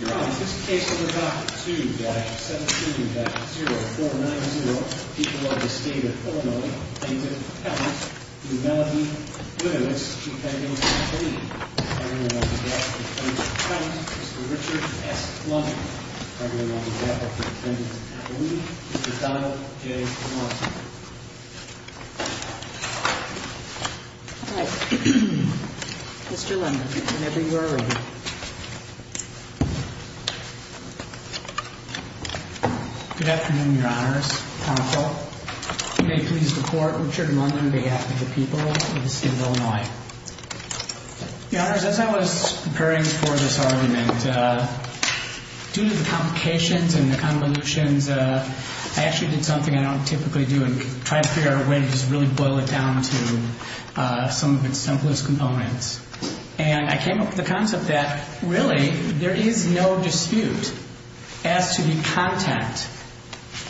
Your Honor, in this case under Doctrine 2-17-0490, people of the state of Illinois, names of the defendants, do Melody Gliniewicz, Chief Medical Officer, plead. The criminal on the death of the plaintiff's client, Mr. Richard S. London. The criminal on the death of the defendant's attorney, Mr. Donald J. Lawson. All right. Mr. London, whenever you are ready. Good afternoon, Your Honors. Counsel, you may please report. Richard London on behalf of the people of the state of Illinois. Your Honors, as I was preparing for this argument, due to the complications and the convolutions, I actually did something I don't typically do and tried to figure out a way to just really boil it down to some of its simplest components. And I came up with the concept that really there is no dispute as to the content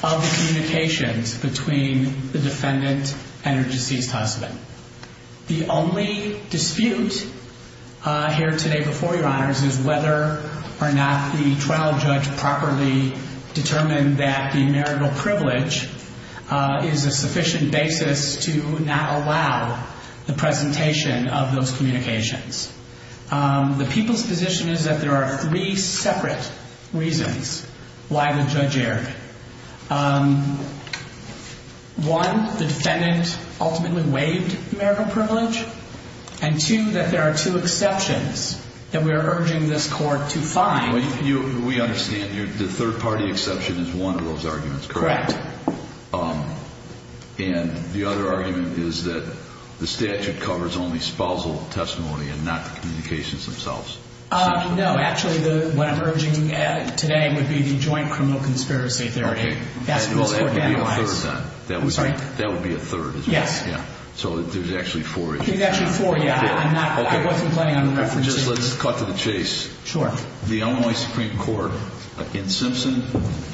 of the communications between the defendant and her deceased husband. The only dispute here today before you, Your Honors, is whether or not the trial judge properly determined that the marital privilege is a sufficient basis to not allow the presentation of those communications. The people's position is that there are three separate reasons why the judge erred. One, the defendant ultimately waived marital privilege. And two, that there are two exceptions that we are urging this court to find. We understand the third-party exception is one of those arguments, correct? Correct. And the other argument is that the statute covers only spousal testimony and not the communications themselves? No. Actually, what I'm urging today would be the joint criminal conspiracy theory. Okay. That's what this court analyzes. Well, that would be a third then. I'm sorry? That would be a third as well. Yes. Yeah. So there's actually four issues. There's actually four, yeah. Okay. I wasn't planning on referencing. Just let's cut to the chase. Sure. The Illinois Supreme Court in Simpson,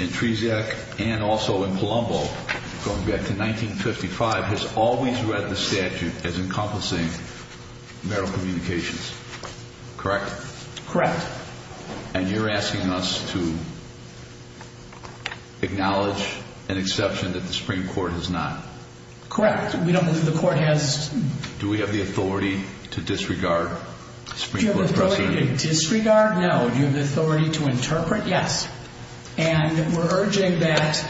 in Trezak, and also in Palumbo, going back to 1955, has always read the statute as encompassing marital communications, correct? Correct. And you're asking us to acknowledge an exception that the Supreme Court has not? Correct. We don't believe the court has. Do we have the authority to disregard the Supreme Court proceeding? Do you have the authority to disregard? No. Do you have the authority to interpret? Yes. And we're urging that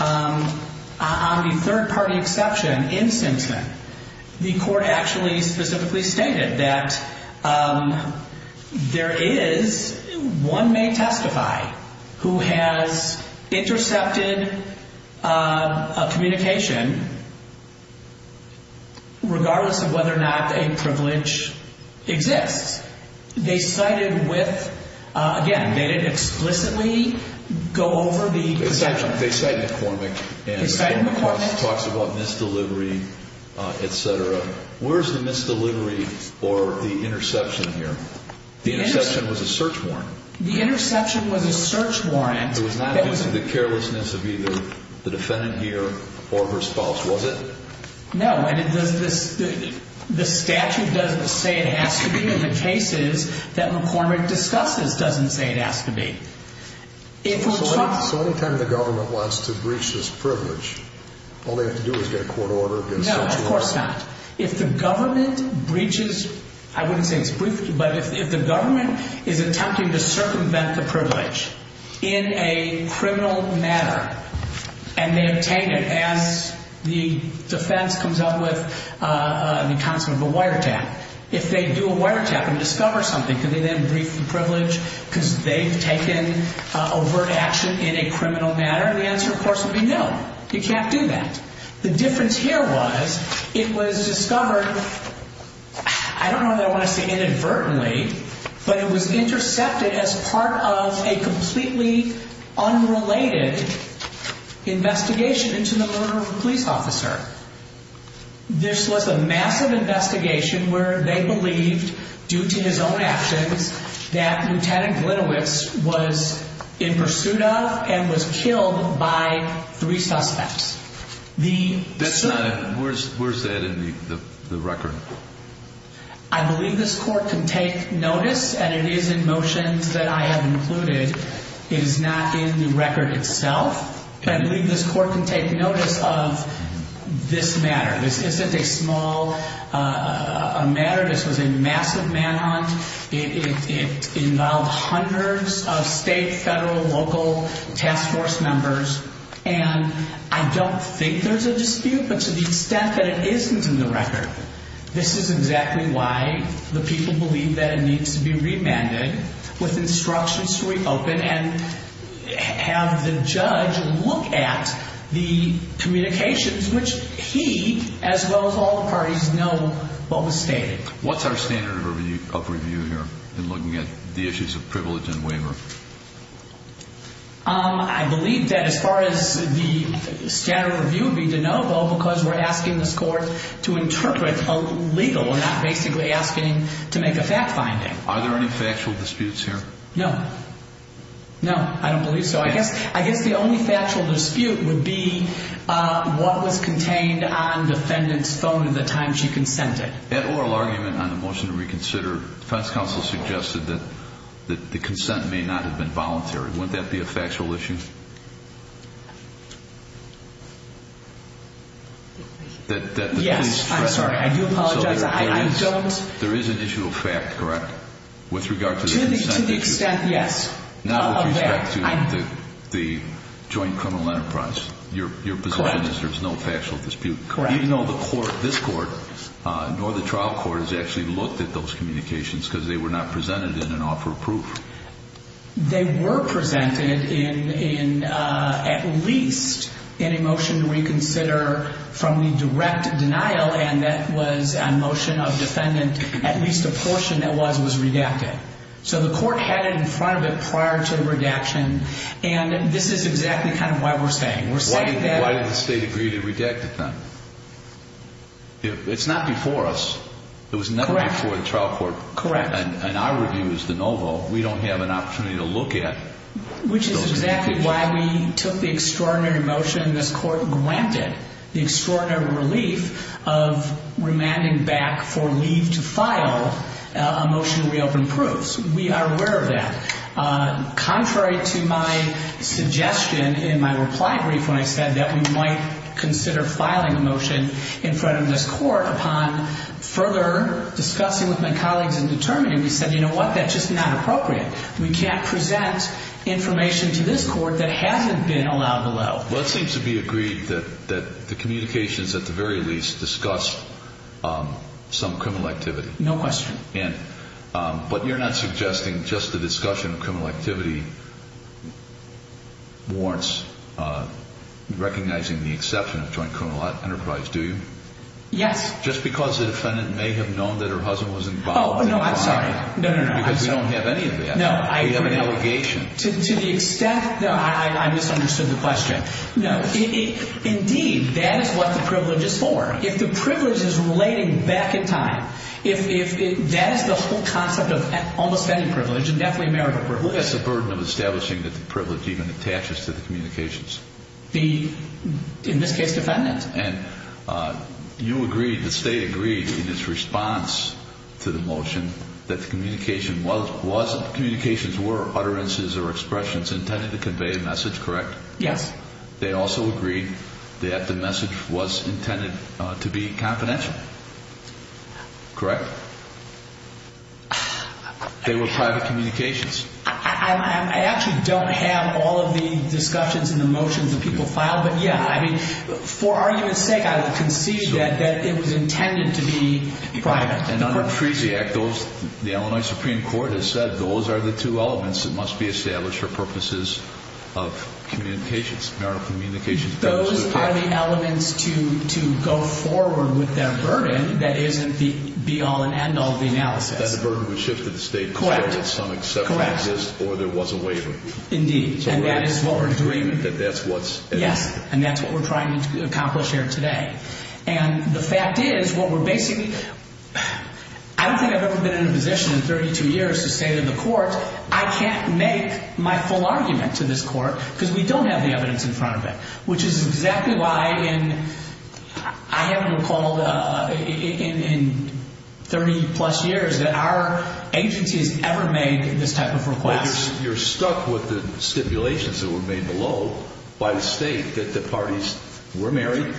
on the third-party exception in Simpson, the court actually specifically stated that there is, one may testify, who has intercepted a communication regardless of whether or not a privilege exists. They cited with, again, they didn't explicitly go over the exception. They cited McCormick. They cited McCormick. And McCormick talks about misdelivery, et cetera. Where's the misdelivery or the interception here? The interception was a search warrant. The interception was a search warrant. It was not due to the carelessness of either the defendant here or her spouse, was it? No, and the statute doesn't say it has to be, and the cases that McCormick discusses doesn't say it has to be. So any time the government wants to breach this privilege, all they have to do is get a court order, get a search warrant? No, of course not. If the government breaches, I wouldn't say it's breached, but if the government is attempting to circumvent the privilege in a criminal manner and they obtain it as the defense comes up with the concept of a wiretap, if they do a wiretap and discover something, could they then breach the privilege because they've taken overt action in a criminal manner? And the answer, of course, would be no. You can't do that. The difference here was it was discovered, I don't know whether I want to say inadvertently, but it was intercepted as part of a completely unrelated investigation into the murder of a police officer. This was a massive investigation where they believed, due to his own actions, that Lieutenant Glitowitz was in pursuit of and was killed by three suspects. Where's that in the record? I believe this court can take notice, and it is in motions that I have included. It is not in the record itself. I believe this court can take notice of this matter. This isn't a small matter. This was a massive manhunt. It involved hundreds of state, federal, local task force members. And I don't think there's a dispute, but to the extent that it isn't in the record, this is exactly why the people believe that it needs to be remanded with instructions to reopen and have the judge look at the communications, which he, as well as all the parties, know what was stated. What's our standard of review here in looking at the issues of privilege and waiver? I believe that as far as the standard of review would be de novo, because we're asking this court to interpret a legal, we're not basically asking to make a fact finding. Are there any factual disputes here? No. No, I don't believe so. I guess the only factual dispute would be what was contained on the defendant's phone at the time she consented. At oral argument on the motion to reconsider, defense counsel suggested that the consent may not have been voluntary. Wouldn't that be a factual issue? Yes, I'm sorry. I do apologize. I don't. There is an issue of fact, correct? To the extent, yes. Not with respect to the joint criminal enterprise. Correct. Your position is there's no factual dispute. Correct. Even though the court, this court, nor the trial court has actually looked at those communications, because they were not presented in an offer of proof. They were presented in at least in a motion to reconsider from the direct denial, and that was a motion of defendant, at least a portion that was redacted. So the court had it in front of it prior to the redaction, and this is exactly kind of why we're saying. Why did the state agree to redact it then? It's not before us. Correct. It was never before the trial court. Correct. And our review is de novo. We don't have an opportunity to look at those communications. Which is exactly why we took the extraordinary motion this court granted, the extraordinary relief of remanding back for leave to file a motion to reopen proofs. We are aware of that. Contrary to my suggestion in my reply brief when I said that we might consider filing a motion in front of this court upon further discussing with my colleagues and determining, we said, you know what? That's just not appropriate. We can't present information to this court that hasn't been allowed to allow. Well, it seems to be agreed that the communications at the very least discussed some criminal activity. No question. But you're not suggesting just the discussion of criminal activity warrants recognizing the exception of joint criminal enterprise, do you? Yes. Just because the defendant may have known that her husband was involved. Oh, no, I'm sorry. No, no, no. Because we don't have any of that. No, I agree. We have an allegation. To the extent that I misunderstood the question. No. Indeed, that is what the privilege is for. If the privilege is relating back in time, if that is the whole concept of almost any privilege, it's definitely a marital privilege. Who has the burden of establishing that the privilege even attaches to the communications? The, in this case, defendant. And you agreed, the state agreed in its response to the motion that the communication wasn't, communications were utterances or expressions intended to convey a message, correct? Yes. They also agreed that the message was intended to be confidential, correct? They were private communications. I actually don't have all of the discussions and the motions that people filed, but yeah, I mean, for argument's sake, I would concede that it was intended to be private. The Illinois Supreme Court has said those are the two elements that must be established for purposes of communications, marital communications. Those are the elements to go forward with their burden that isn't the be-all and end-all of the analysis. That the burden was shifted to the state. Correct. Or there was a waiver. Indeed. And that is what we're doing. That's what's at stake. Yes. And that's what we're trying to accomplish here today. And the fact is what we're basically, I don't think I've ever been in a position in 32 years to say to the court, I can't make my full argument to this court because we don't have the evidence in front of it. Which is exactly why in, I haven't recalled in 30 plus years that our agency has ever made this type of request. You're stuck with the stipulations that were made below by the state that the parties were married,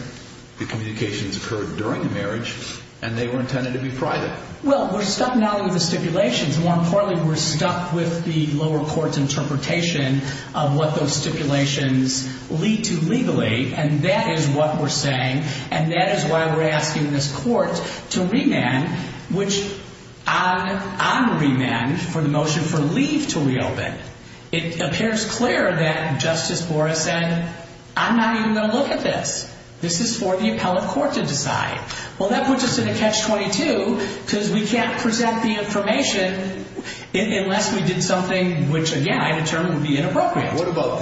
the communications occurred during the marriage, and they were intended to be private. Well, we're stuck not only with the stipulations. More importantly, we're stuck with the lower court's interpretation of what those stipulations lead to legally. And that is what we're saying. And that is why we're asking this court to remand, which I'm remanded for the motion for leave to reopen. It appears clear that Justice Borah said, I'm not even going to look at this. This is for the appellate court to decide. Well, that puts us in a catch-22 because we can't present the information unless we did something which, again, I determined would be inappropriate. What about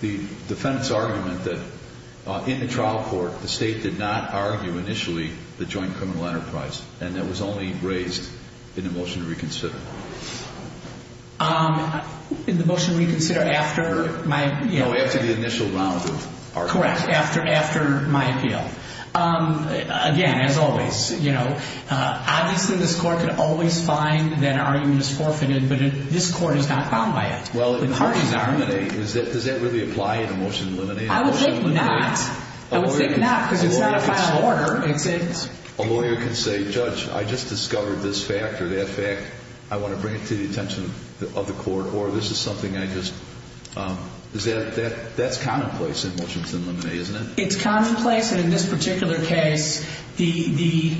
the defendant's argument that in the trial court, the state did not argue initially the joint criminal enterprise, and that was only raised in the motion to reconsider? In the motion to reconsider after my... No, after the initial round of argument. Correct, after my appeal. Again, as always, obviously this court can always find that argument is forfeited, but this court is not bound by it. Well, does that really apply in a motion to eliminate? I would think not. I would think not because it's not a final order. A lawyer can say, Judge, I just discovered this fact or that fact. I want to bring it to the attention of the court, or this is something I just... That's commonplace in motions to eliminate, isn't it? It's commonplace. In this particular case, as this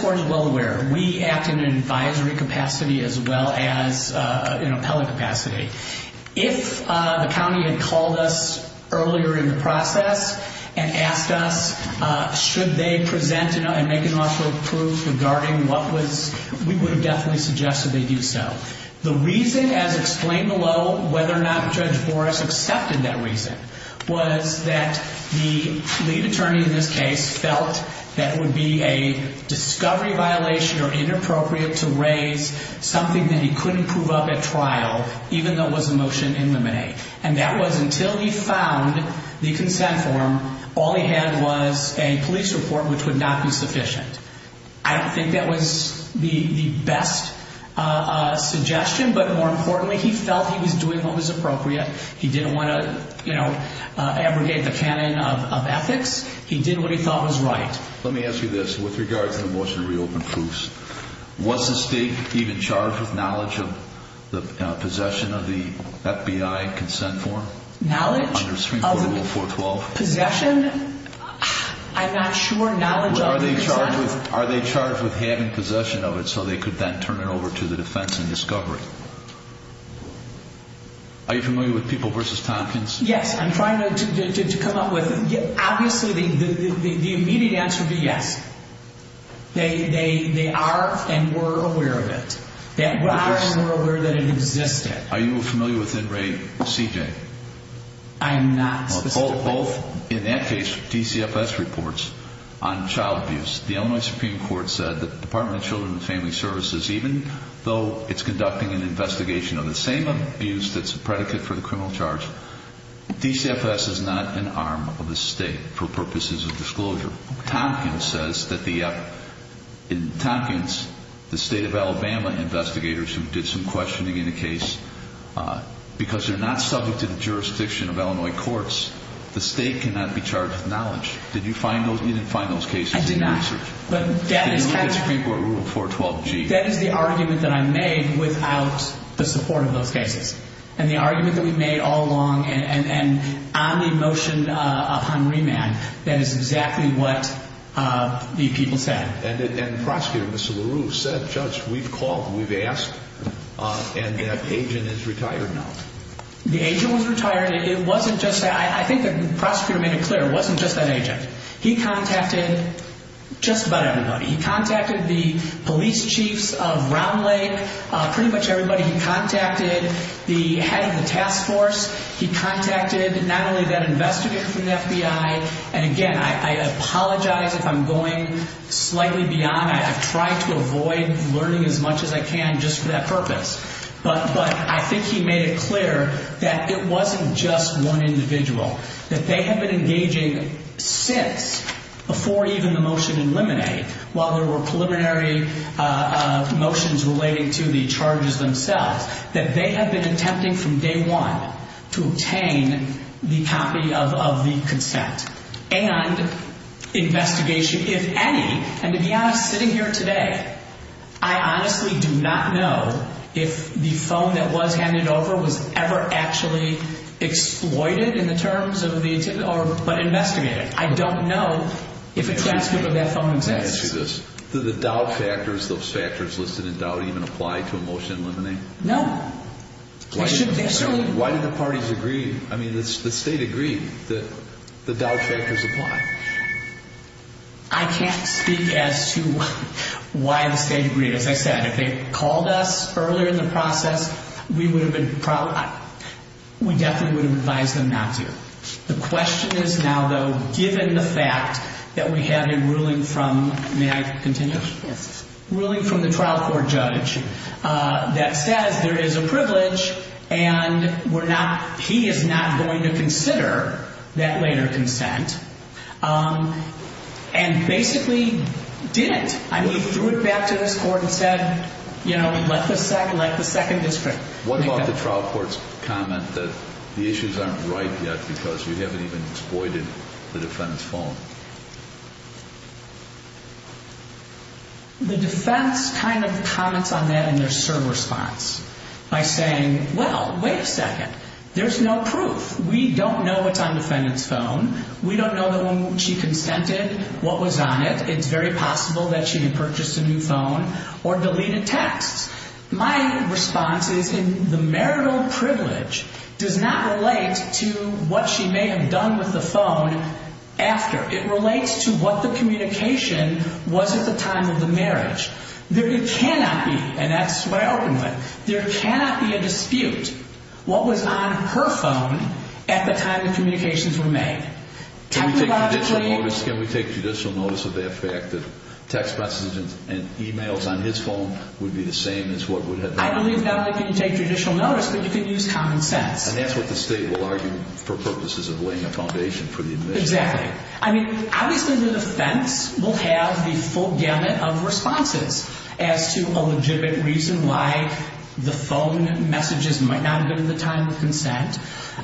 court is well aware, we act in an advisory capacity as well as an appellate capacity. If the county had called us earlier in the process and asked us, should they present and make an official proof regarding what was... We would have definitely suggested they do so. The reason, as explained below, whether or not Judge Boris accepted that reason was that the lead attorney in this case felt that it would be a discovery violation or inappropriate to raise something that he couldn't prove up at trial, even though it was a motion to eliminate. And that was until he found the consent form. All he had was a police report, which would not be sufficient. I don't think that was the best suggestion, but more importantly, he felt he was doing what was appropriate. He didn't want to abrogate the canon of ethics. He did what he thought was right. Let me ask you this. With regards to the motion to reopen FOOS, was the state even charged with knowledge of the possession of the FBI consent form? Knowledge of possession? I'm not sure. Are they charged with having possession of it so they could then turn it over to the defense in discovery? Are you familiar with People v. Tompkins? Yes. I'm trying to come up with... Obviously, the immediate answer would be yes. They are and were aware of it. They are and were aware that it existed. Are you familiar with Inmate CJ? I'm not specifically. Both, in that case, DCFS reports on child abuse. The Illinois Supreme Court said that the Department of Children and Family Services, even though it's conducting an investigation of the same abuse that's a predicate for the criminal charge, DCFS is not an arm of the state for purposes of disclosure. Tompkins says that the... In Tompkins, the state of Alabama investigators who did some questioning in the case, because they're not subject to the jurisdiction of Illinois courts, the state cannot be charged with knowledge. Did you find those cases in your research? I did not. Did you look at Supreme Court Rule 412G? That is the argument that I made without the support of those cases. And the argument that we made all along and on the motion upon remand, that is exactly what the people said. And the prosecutor, Mr. LaRue, said, Judge, we've called, we've asked, and that agent is retired now. The agent was retired. It wasn't just that. I think the prosecutor made it clear. It wasn't just that agent. He contacted just about everybody. He contacted the police chiefs of Round Lake, pretty much everybody. He contacted the head of the task force. He contacted not only that investigator from the FBI, and again, I apologize if I'm going slightly beyond. I've tried to avoid learning as much as I can just for that purpose. But I think he made it clear that it wasn't just one individual, that they have been engaging since before even the motion in Lemonade, while there were preliminary motions relating to the charges themselves, that they have been attempting from day one to obtain the copy of the consent and investigation, if any. And to be honest, sitting here today, I honestly do not know if the phone that was handed over was ever actually exploited in the terms of the, but investigated. I don't know if a transcript of that phone exists. Can I ask you this? Do the doubt factors, those factors listed in doubt, even apply to a motion in Lemonade? No. They shouldn't. Why do the parties agree? I mean, the state agreed. The doubt factors apply. I can't speak as to why the state agreed. As I said, if they had called us earlier in the process, we definitely would have advised them not to. The question is now, though, given the fact that we have a ruling from, may I continue? Yes. A ruling from the trial court judge that says there is a privilege and we're not, he is not going to consider that later consent. And basically didn't. I mean, he threw it back to this court and said, you know, let the second district. What about the trial court's comment that the issues aren't right yet because you haven't even exploited the defense phone? The defense kind of comments on that in their serve response by saying, well, wait a second. There's no proof. We don't know what's on the defendant's phone. We don't know that when she consented, what was on it. It's very possible that she had purchased a new phone or deleted texts. My response is the marital privilege does not relate to what she may have done with the phone after. It relates to what the communication was at the time of the marriage. There cannot be, and that's what I open with, there cannot be a dispute. What was on her phone at the time of communications were made. Can we take judicial notice of that fact that text messages and emails on his phone would be the same as what would happen? I believe not only can you take judicial notice, but you can use common sense. And that's what the state will argue for purposes of laying a foundation for the admission. Exactly. I mean, obviously the defense will have the full gamut of responses as to a the phone messages might not have been at the time of consent.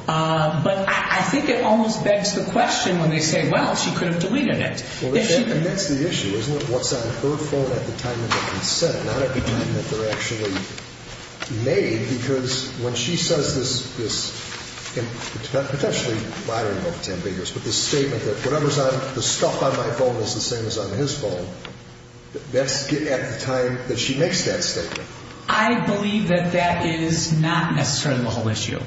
But I think it almost begs the question when they say, well, she could have deleted it. And that's the issue, isn't it? What's on her phone at the time of the consent, not at the time that they're actually made. Because when she says this, and potentially I don't know if Tim Biggers, but this statement that whatever's on, the stuff on my phone is the same as on his phone. That's at the time that she makes that statement. I believe that that is not necessarily the whole issue.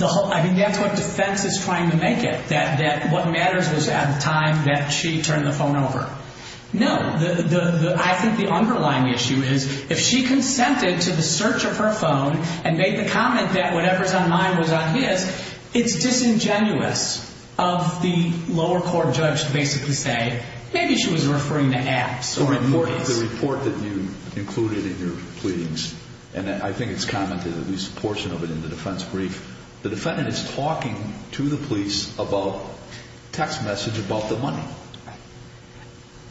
I mean, that's what defense is trying to make it, that what matters was at the time that she turned the phone over. No. I think the underlying issue is if she consented to the search of her phone and made the comment that whatever's on mine was on his, it's disingenuous of the lower court judge to basically say, maybe she was referring to apps. The report that you included in your pleadings, and I think it's commented at least a portion of it in the defense brief, the defendant is talking to the police about text message about the money.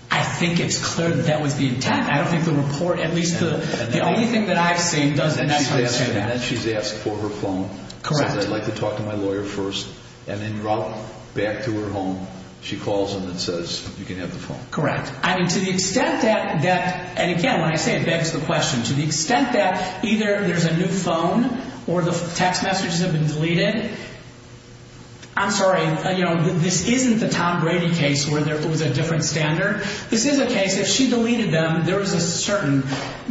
I think it's clear that that was the intent. I don't think the report, at least the only thing that I've seen, does the next thing. And then she's asked for her phone. Correct. Says, I'd like to talk to my lawyer first. And then back to her home, she calls him and says, you can have the phone. Correct. I mean, to the extent that, and again, when I say it begs the question, to the extent that either there's a new phone or the text messages have been deleted, I'm sorry, this isn't the Tom Brady case where it was a different standard. This is a case, if she deleted them, there was a certain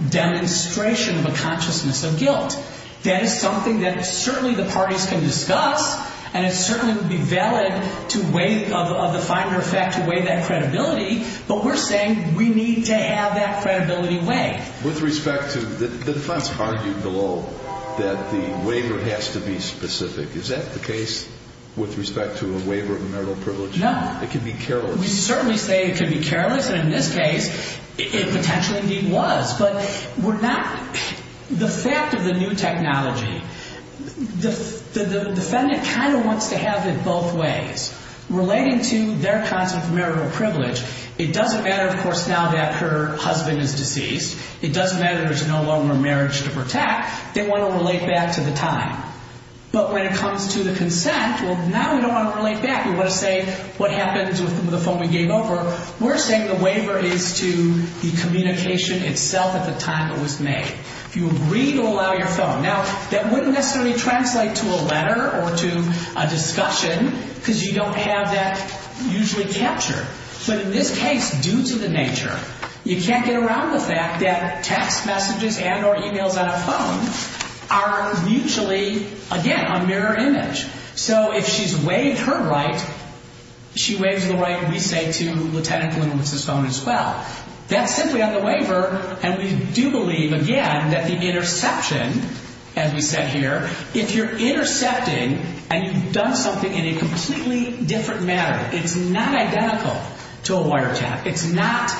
demonstration of a consciousness of guilt. That is something that certainly the parties can discuss, and it certainly would be valid of the finder effect to weigh that credibility, but we're saying we need to have that credibility weighed. With respect to, the defense argued below that the waiver has to be specific. Is that the case with respect to a waiver of marital privilege? No. It can be careless. We certainly say it can be careless, and in this case, it potentially indeed was. But we're not, the fact of the new technology, the defendant kind of wants to have it both ways. Relating to their concept of marital privilege, it doesn't matter, of course, now that her husband is deceased. It doesn't matter there's no longer marriage to protect. They want to relate back to the time. But when it comes to the consent, well, now we don't want to relate back. We want to say what happens with the phone we gave over. We're saying the waiver is to the communication itself at the time it was made. If you agree to allow your phone. Now, that wouldn't necessarily translate to a letter or to a discussion because you don't have that usually captured. But in this case, due to the nature, you can't get around the fact that text messages and or e-mails on a phone are mutually, again, a mirror image. So if she's waived her right, she waives the right, we say, to Lieutenant Kalinowicz's phone as well. That's simply on the waiver, and we do believe, again, that the interception, as we said here, if you're intercepting and you've done something in a completely different manner, it's not identical to a wiretap. It's not.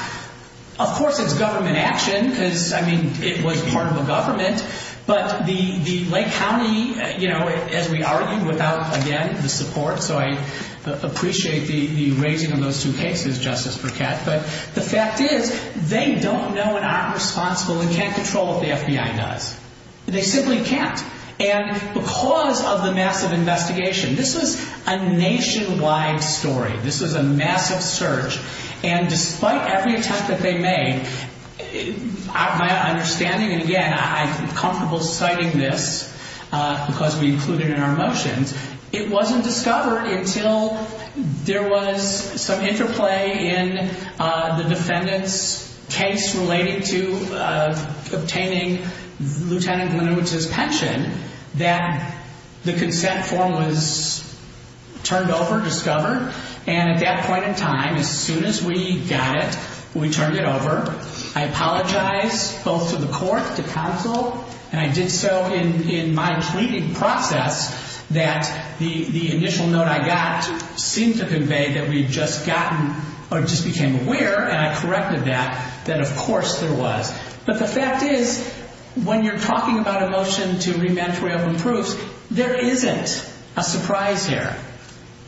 Of course, it's government action. I mean, it was part of the government. But the Lake County, as we argued, without, again, the support. So I appreciate the raising of those two cases, Justice Burkett. But the fact is they don't know and aren't responsible and can't control what the FBI does. They simply can't. And because of the massive investigation, this was a nationwide story. This was a massive search. And despite every attempt that they made, my understanding, and again, I'm comfortable citing this because we include it in our motions, it wasn't discovered until there was some interplay in the defendant's case relating to obtaining Lieutenant Linowitz's pension that the consent form was turned over, discovered. And at that point in time, as soon as we got it, we turned it over. I apologized both to the court, to counsel, and I did so in my pleading process that the initial note I got seemed to convey that we'd just gotten or just became aware, and I corrected that, that, of course, there was. But the fact is, when you're talking about a motion to re-mantray open proofs, there isn't a surprise here.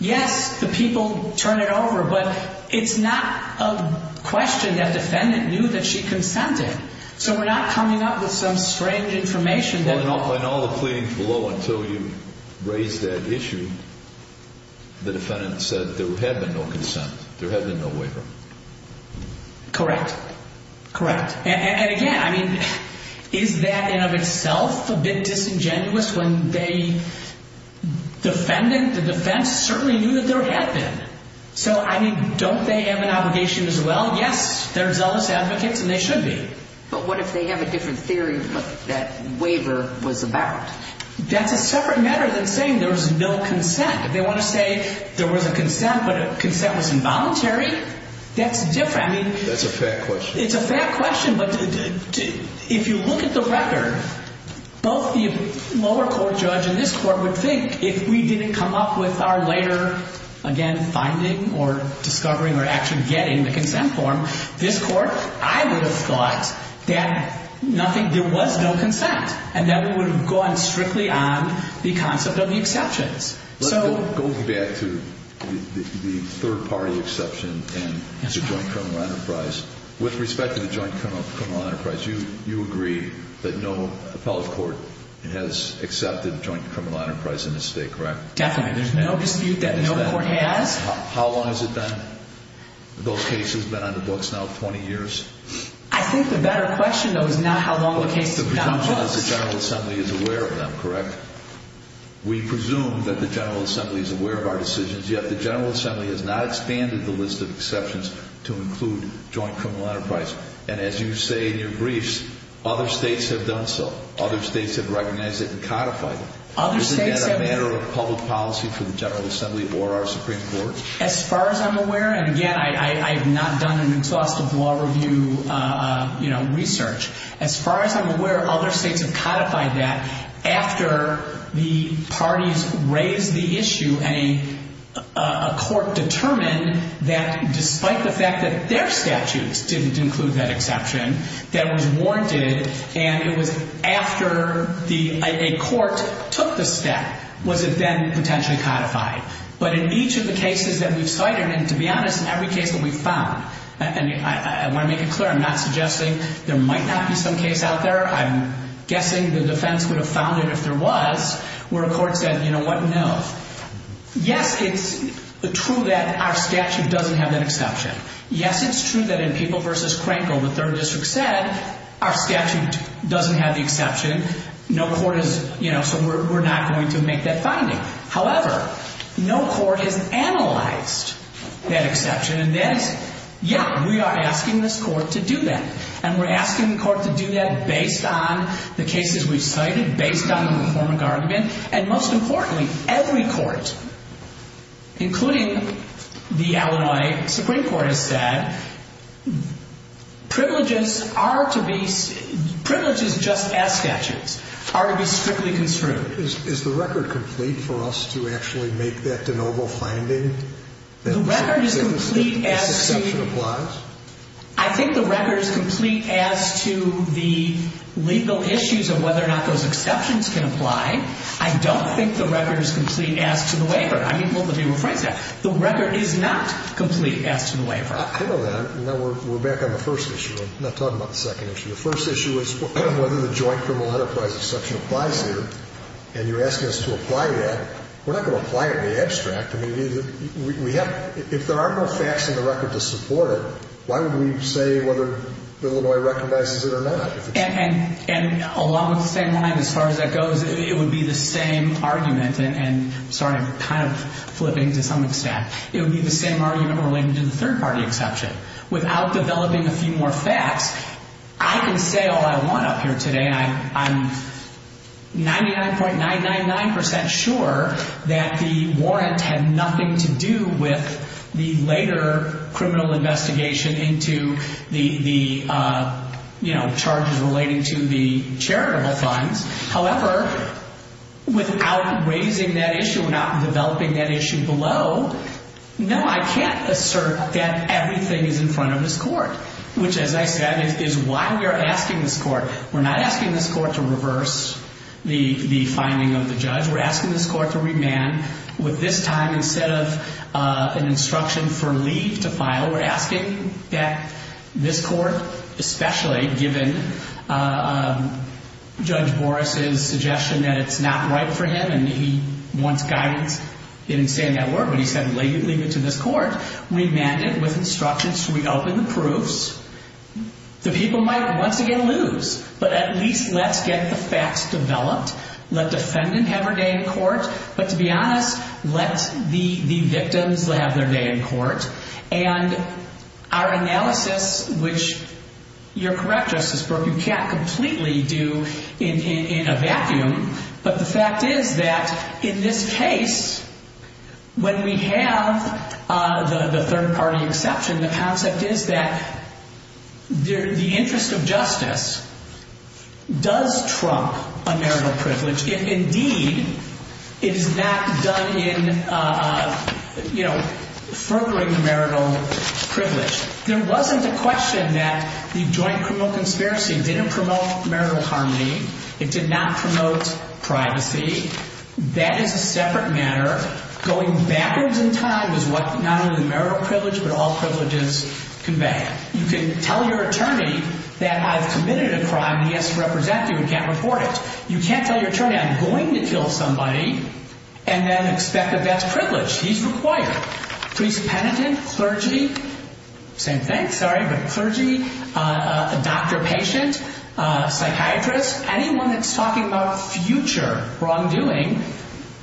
Yes, the people turn it over, but it's not a question that defendant knew that she consented. So we're not coming up with some strange information. In all the pleadings below until you raised that issue, the defendant said there had been no consent, there had been no waiver. Correct. Correct. And again, I mean, is that in and of itself a bit disingenuous when the defendant, the defense, certainly knew that there had been? So, I mean, don't they have an obligation as well? Yes, they're zealous advocates, and they should be. But what if they have a different theory of what that waiver was about? That's a separate matter than saying there was no consent. If they want to say there was a consent, but a consent was involuntary, that's different. That's a fair question. It's a fair question, but if you look at the record, both the lower court judge and this court would think if we didn't come up with our later, again, finding or discovering or actually getting the consent form, this court, I would have thought that there was no consent, and then we would have gone strictly on the concept of the exceptions. Let's go back to the third-party exception and the joint criminal enterprise. With respect to the joint criminal enterprise, you agree that no appellate court has accepted joint criminal enterprise in this state, correct? Definitely. There's no dispute that no court has. How long has it been? Those cases have been on the books now 20 years? I think the better question, though, is not how long the case has been on the books. As long as the General Assembly is aware of them, correct? We presume that the General Assembly is aware of our decisions, yet the General Assembly has not expanded the list of exceptions to include joint criminal enterprise. And as you say in your briefs, other states have done so. Other states have recognized it and codified it. Is that a matter of public policy for the General Assembly or our Supreme Court? As far as I'm aware, and again, I have not done an exhaustive law review research. As far as I'm aware, other states have codified that after the parties raised the issue and a court determined that despite the fact that their statutes didn't include that exception, that was warranted, and it was after a court took the step was it then potentially codified. But in each of the cases that we've cited, and to be honest, in every case that we've found, and I want to make it clear, I'm not suggesting there might not be some case out there. I'm guessing the defense would have found it if there was, where a court said, you know what, no. Yes, it's true that our statute doesn't have that exception. Yes, it's true that in People v. Crankville, the 3rd District said our statute doesn't have the exception. No court has, you know, so we're not going to make that finding. However, no court has analyzed that exception, and that's, yeah, we are asking this court to do that, and we're asking the court to do that based on the cases we've cited, based on the reformic argument, and most importantly, every court, including the Illinois Supreme Court, has said privileges are to be, privileges just as statutes are to be strictly construed. Is the record complete for us to actually make that de novo finding that the exception applies? I think the record is complete as to the legal issues of whether or not those exceptions can apply. I don't think the record is complete as to the waiver. I mean, well, let me rephrase that. The record is not complete as to the waiver. I know that, and now we're back on the first issue. I'm not talking about the second issue. The first issue is whether the joint criminal enterprise exception applies here, and you're asking us to apply that. We're not going to apply it in the abstract. I mean, we have, if there are no facts in the record to support it, why would we say whether Illinois recognizes it or not? And along with the same line, as far as that goes, it would be the same argument, and sorry, I'm kind of flipping to some extent. It would be the same argument related to the third-party exception. Without developing a few more facts, I can say all I want up here today. I'm 99.999% sure that the warrant had nothing to do with the later criminal investigation into the, you know, charges relating to the charitable funds. However, without raising that issue, without developing that issue below, no, I can't assert that everything is in front of this court, which, as I said, is why we are asking this court. We're not asking this court to reverse the finding of the judge. We're asking this court to remand with this time instead of an instruction for leave to file. We're asking that this court, especially given Judge Boris' suggestion that it's not right for him and he wants guidance in saying that word, but he said leave it to this court, remand it with instructions to reopen the proofs. The people might once again lose, but at least let's get the facts developed. Let defendant have her day in court, but to be honest, let the victims have their day in court. And our analysis, which you're correct, Justice Burke, you can't completely do in a vacuum, but the fact is that in this case, when we have the third-party exception, the concept is that the interest of justice does trump a marital privilege if indeed it is not done in, you know, furthering the marital privilege. There wasn't a question that the joint criminal conspiracy didn't promote marital harmony. It did not promote privacy. That is a separate matter. Going backwards in time is what not only marital privilege, but all privileges convey. You can tell your attorney that I've committed a crime and he has to represent you and can't report it. You can't tell your attorney I'm going to kill somebody and then expect that that's privilege. He's required. Priest, penitent, clergy, same thing, sorry, but clergy, doctor, patient, psychiatrist, anyone that's talking about future wrongdoing,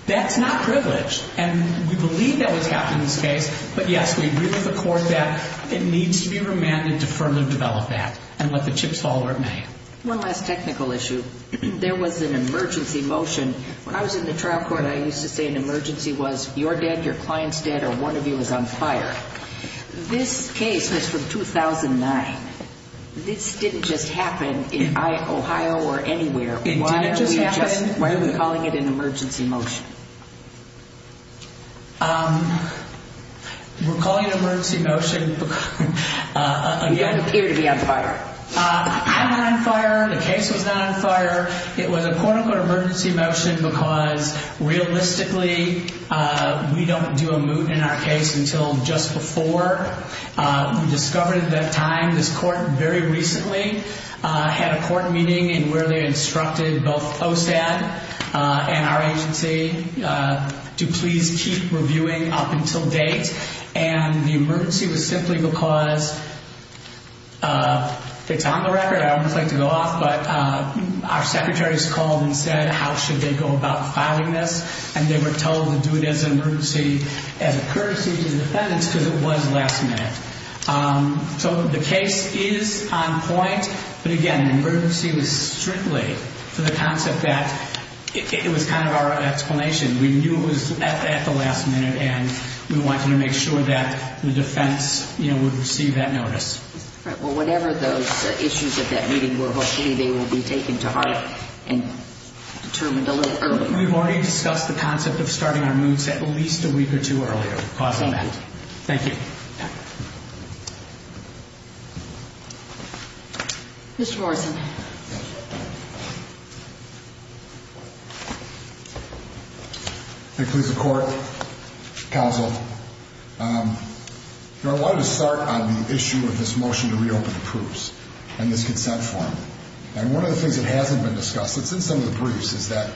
that's not privilege. And we believe that was kept in this case, but, yes, we agree with the court that it needs to be remanded to further develop that and let the chips fall where it may. One last technical issue. There was an emergency motion. When I was in the trial court, I used to say an emergency was, you're dead, your client's dead, or one of you is on fire. This case is from 2009. This didn't just happen in Ohio or anywhere. Why are we calling it an emergency motion? We're calling it an emergency motion. You don't appear to be on fire. I'm not on fire. The case was not on fire. It was a quote-unquote emergency motion because realistically we don't do a moot in our case until just before. We discovered at that time this court very recently had a court meeting in where they instructed both OSAD and our agency to please keep reviewing up until date. And the emergency was simply because it's on the record. I would just like to go off, but our secretaries called and said how should they go about filing this, and they were told to do it as an emergency as a courtesy to the defendants because it was last minute. So the case is on point, but, again, an emergency was strictly for the concept that it was kind of our explanation. We knew it was at the last minute, and we wanted to make sure that the defense would receive that notice. Right. Well, whatever those issues at that meeting were, hopefully they will be taken to heart and determined a little earlier. We've already discussed the concept of starting our moots at least a week or two earlier. Thank you. Thank you. Mr. Morrison. Thank you, Mr. Court, counsel. You know, I wanted to start on the issue of this motion to reopen the proofs and this consent form. And one of the things that hasn't been discussed, it's in some of the briefs, is that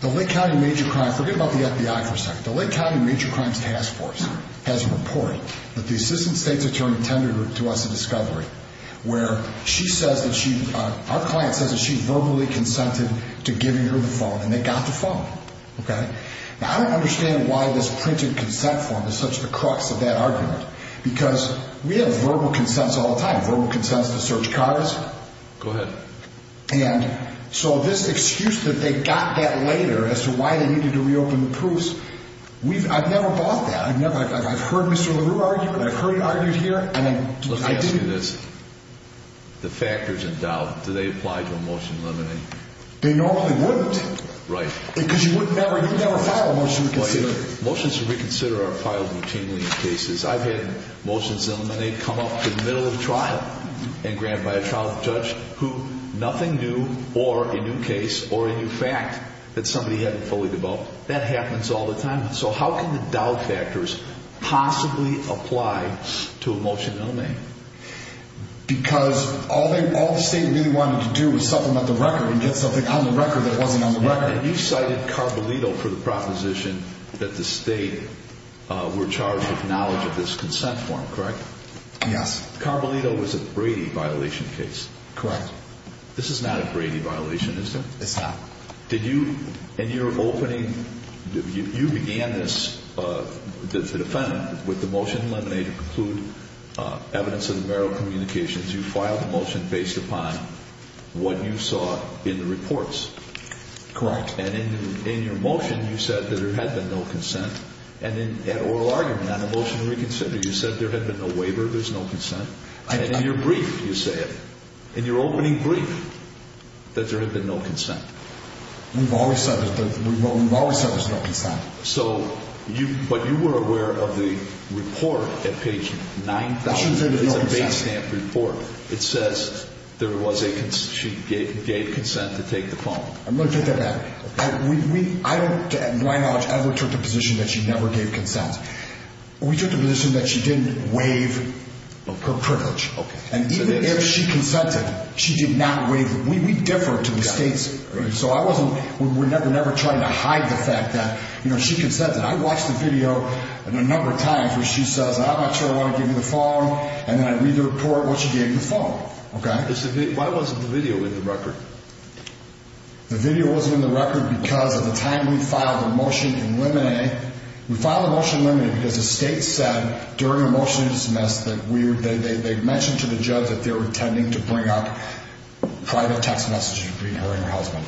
the Lake County Major Crimes, forget about the FBI for a second, the Lake County Major Crimes Task Force has a report that the Assistant State's Attorney tended to us in discovery where she says that she, our client says that she verbally consented to giving her the phone, and they got the phone. Okay? Now, I don't understand why this printed consent form is such the crux of that argument, because we have verbal consents all the time, verbal consents to search cars. Go ahead. And so this excuse that they got that later as to why they needed to reopen the proofs, I've never bought that. I've heard Mr. LaRue argue it. I've heard it argued here, and I didn't. Let's ask you this. The factors in doubt, do they apply to a motion limiting? They normally wouldn't. Right. Because you would never file a motion to reconsider. Motions to reconsider are filed routinely in cases. I've had motions eliminate come up in the middle of trial and grabbed by a trial judge who nothing new or a new case or a new fact that somebody hadn't fully developed. That happens all the time. Because all the state really wanted to do was supplement the record and get something on the record that wasn't on the record. And you cited Carbolito for the proposition that the state were charged with knowledge of this consent form, correct? Yes. Carbolito was a Brady violation case. Correct. This is not a Brady violation, is it? It's not. Did you, in your opening, you began this, the defendant, with the motion to eliminate or preclude evidence of the marital communications. You filed the motion based upon what you saw in the reports. Correct. And in your motion, you said that there had been no consent. And in that oral argument on the motion to reconsider, you said there had been no waiver, there's no consent. And in your brief, you said, in your opening brief, that there had been no consent. We've always said there's no consent. So, but you were aware of the report at page 9000. I shouldn't say there's no consent. It's a base stamp report. It says there was a, she gave consent to take the phone. I'm going to take that back. I don't, to my knowledge, ever took the position that she never gave consent. We took the position that she didn't waive her privilege. Okay. And even if she consented, she did not waive it. We differ to the states. So I wasn't, we're never trying to hide the fact that, you know, she consented. I watched the video a number of times where she says, I'm not sure I want to give you the phone. And then I read the report what she gave me the phone. Okay. Why wasn't the video in the record? The video wasn't in the record because of the time we filed the motion in limine. We filed the motion in limine because the states said during the motion to dismiss that we were, they mentioned to the judge that they were intending to bring up private text messages between her and her husband.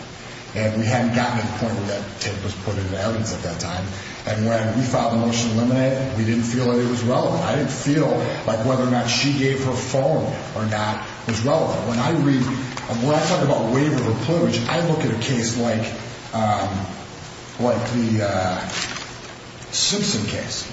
And we hadn't gotten to the point where that tape was put into evidence at that time. And when we filed the motion in limine, we didn't feel that it was relevant. I didn't feel like whether or not she gave her phone or not was relevant. When I read, when I talk about waive of a privilege, I look at a case like, like the Simpson case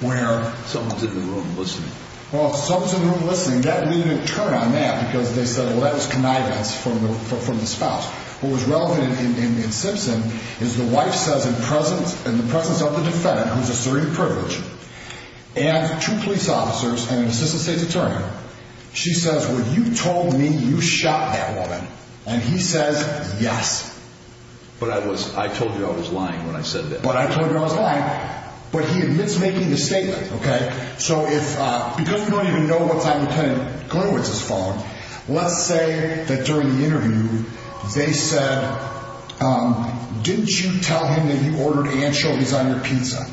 where. Someone's in the room listening. Well, if someone's in the room listening, that needed a turn on that because they said, well, that was connivance from the spouse. What was relevant in Simpson is the wife says in presence and the presence of the defendant, who's a serene privilege and two police officers and an assistant state's attorney. She says, well, you told me you shot that woman. And he says, yes. But I was, I told you I was lying when I said that. But I told you I was lying. But he admits making the statement. Okay. So if because we don't even know what's on the phone, let's say that during the interview, they said, didn't you tell him that you ordered anchovies on your pizza?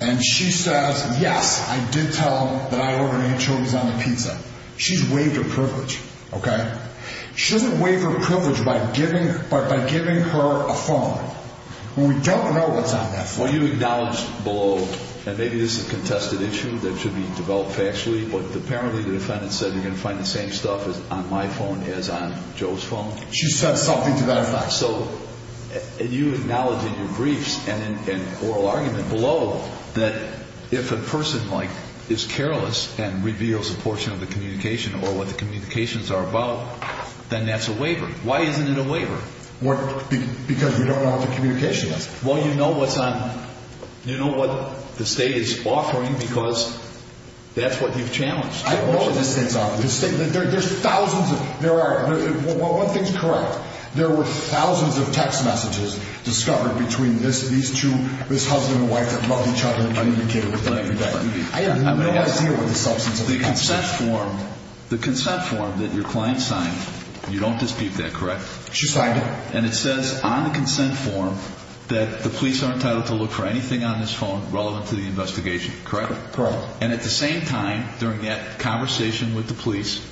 And she says, yes, I did tell that I ordered anchovies on the pizza. She's waived her privilege. Okay. She doesn't waive her privilege by giving, but by giving her a phone. Well, we don't know what's on that phone. Well, you acknowledged below, and maybe this is a contested issue that should be developed factually, but apparently the defendant said you're going to find the same stuff on my phone as on Joe's phone. She said something to that effect. So you acknowledge in your briefs and in oral argument below that if a person like is careless and reveals a portion of the communication or what the communications are about, then that's a waiver. Why isn't it a waiver? Because we don't know what the communication is. Well, you know what's on, you know what the state is offering because that's what you've challenged. I know what the state's offering. The state, there's thousands of, there are, one thing's correct. There were thousands of text messages discovered between this, these two, this husband and wife that love each other and communicated with each other. I have no idea what the substance of that is. The consent form, the consent form that your client signed, you don't dispute that, correct? She signed it. And it says on the consent form that the police are entitled to look for anything on this phone relevant to the investigation, correct? Correct. And at the same time, during that conversation with the police,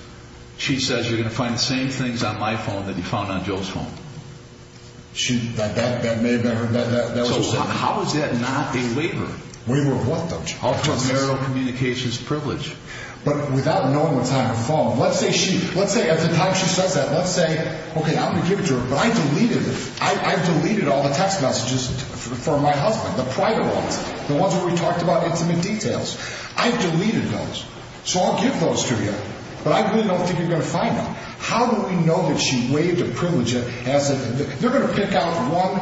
she says you're going to find the same things on my phone that you found on Joe's phone. She, that may have been her, that was what she said. So how is that not a waiver? Waiver of what though? Of her marital communications privilege. But without knowing what's on her phone, let's say she, let's say at the time she says that, let's say, okay, I'm going to give it to her, but I deleted it. I've deleted all the text messages for my husband, the private ones, the ones where we talked about intimate details. I've deleted those. So I'll give those to you, but I really don't think you're going to find them. How do we know that she waived a privilege? They're going to pick out one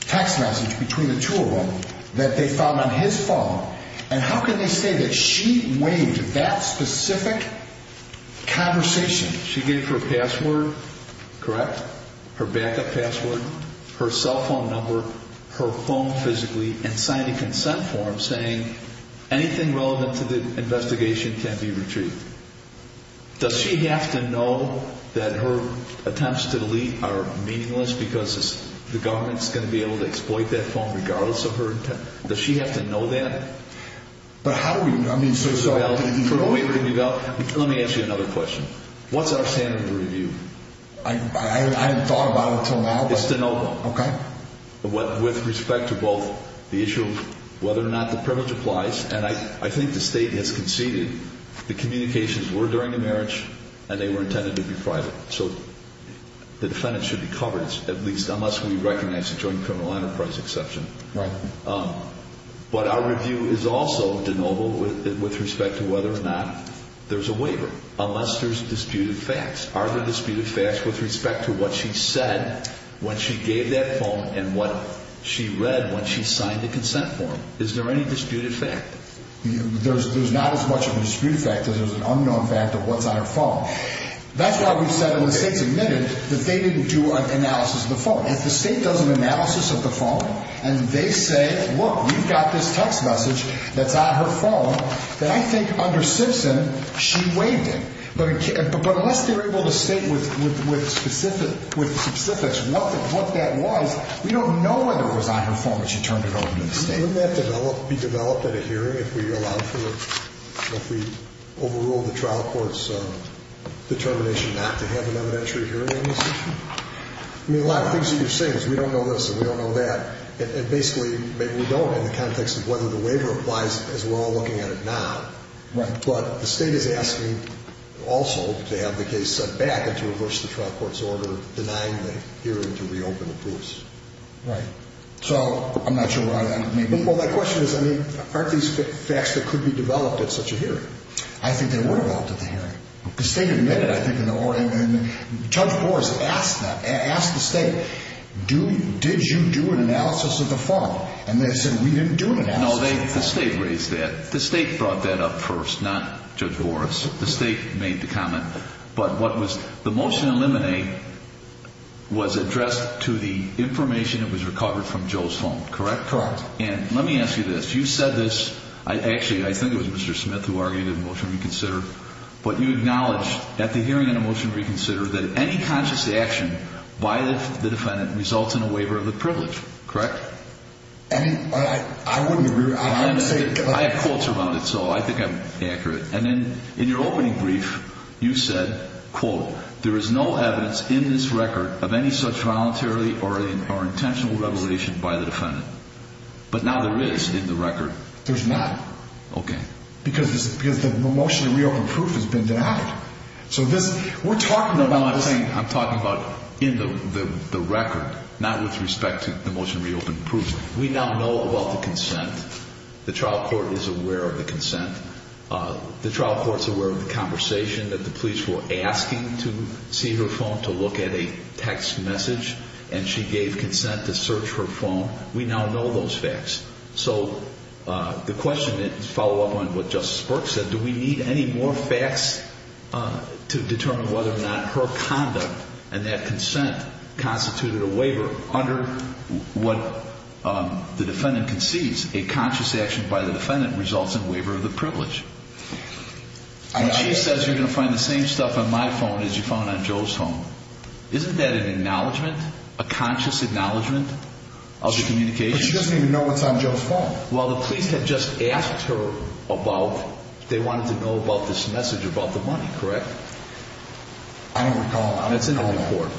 text message between the two of them that they found on his phone. And how can they say that she waived that specific conversation? She gave her password, correct? Her backup password, her cell phone number, her phone physically, and signed a consent form saying anything relevant to the investigation can be retrieved. Does she have to know that her attempts to delete are meaningless because the government is going to be able to exploit that phone regardless of her intent? Does she have to know that? But how do we know? I mean, so, sorry. Let me ask you another question. What's our standard of review? I haven't thought about it until now. It's to know. Okay. With respect to both the issue of whether or not the privilege applies, and I think the State has conceded. The communications were during the marriage, and they were intended to be private. So the defendant should be covered, at least unless we recognize a joint criminal enterprise exception. Right. But our review is also de novo with respect to whether or not there's a waiver, unless there's disputed facts. Are there disputed facts with respect to what she said when she gave that phone and what she read when she signed the consent form? Is there any disputed fact? There's not as much of a disputed fact as there's an unknown fact of what's on her phone. That's why we've said, and the State's admitted, that they didn't do an analysis of the phone. If the State does an analysis of the phone and they say, look, you've got this text message that's on her phone, then I think under Simpson she waived it. But unless they're able to state with specifics what that was, we don't know whether it was on her phone when she turned it over to the State. Wouldn't that be developed at a hearing if we allowed for it, if we overruled the trial court's determination not to have an evidentiary hearing on this issue? I mean, a lot of things that you're saying is we don't know this and we don't know that. And basically maybe we don't in the context of whether the waiver applies as we're all looking at it now. Right. But the State is asking also to have the case sent back and to reverse the trial court's order denying the hearing to reopen the case. Right. So I'm not sure why that may be. Well, my question is, I mean, aren't these facts that could be developed at such a hearing? I think they were developed at the hearing. The State admitted, I think, in the order. And Judge Boris asked that, asked the State, did you do an analysis of the phone? And they said, we didn't do an analysis of the phone. No, the State raised that. The State brought that up first, not Judge Boris. The State made the comment. But what was the motion to eliminate was addressed to the information that was recovered from Joe's phone, correct? Correct. And let me ask you this. You said this. Actually, I think it was Mr. Smith who argued in the motion to reconsider. But you acknowledged at the hearing in the motion to reconsider that any conscious action by the defendant results in a waiver of the privilege, correct? I mean, I wouldn't agree with that. I have quotes about it, so I think I'm accurate. And in your opening brief, you said, quote, there is no evidence in this record of any such voluntary or intentional revelation by the defendant. But now there is in the record. There's not. Okay. Because the motion to reopen proof has been denied. So this, we're talking about this. No, I'm saying, I'm talking about in the record, not with respect to the motion to reopen proof. We now know about the consent. The trial court is aware of the consent. The trial court is aware of the conversation that the police were asking to see her phone, to look at a text message. And she gave consent to search her phone. We now know those facts. So the question, to follow up on what Justice Burke said, do we need any more facts to determine whether or not her conduct and that consent constituted a waiver? Under what the defendant concedes, a conscious action by the defendant results in a waiver of the privilege. When she says you're going to find the same stuff on my phone as you found on Joe's phone, isn't that an acknowledgment, a conscious acknowledgment of the communication? She doesn't even know what's on Joe's phone. Well, the police had just asked her about, they wanted to know about this message about the money, correct? I don't recall. It's in the report.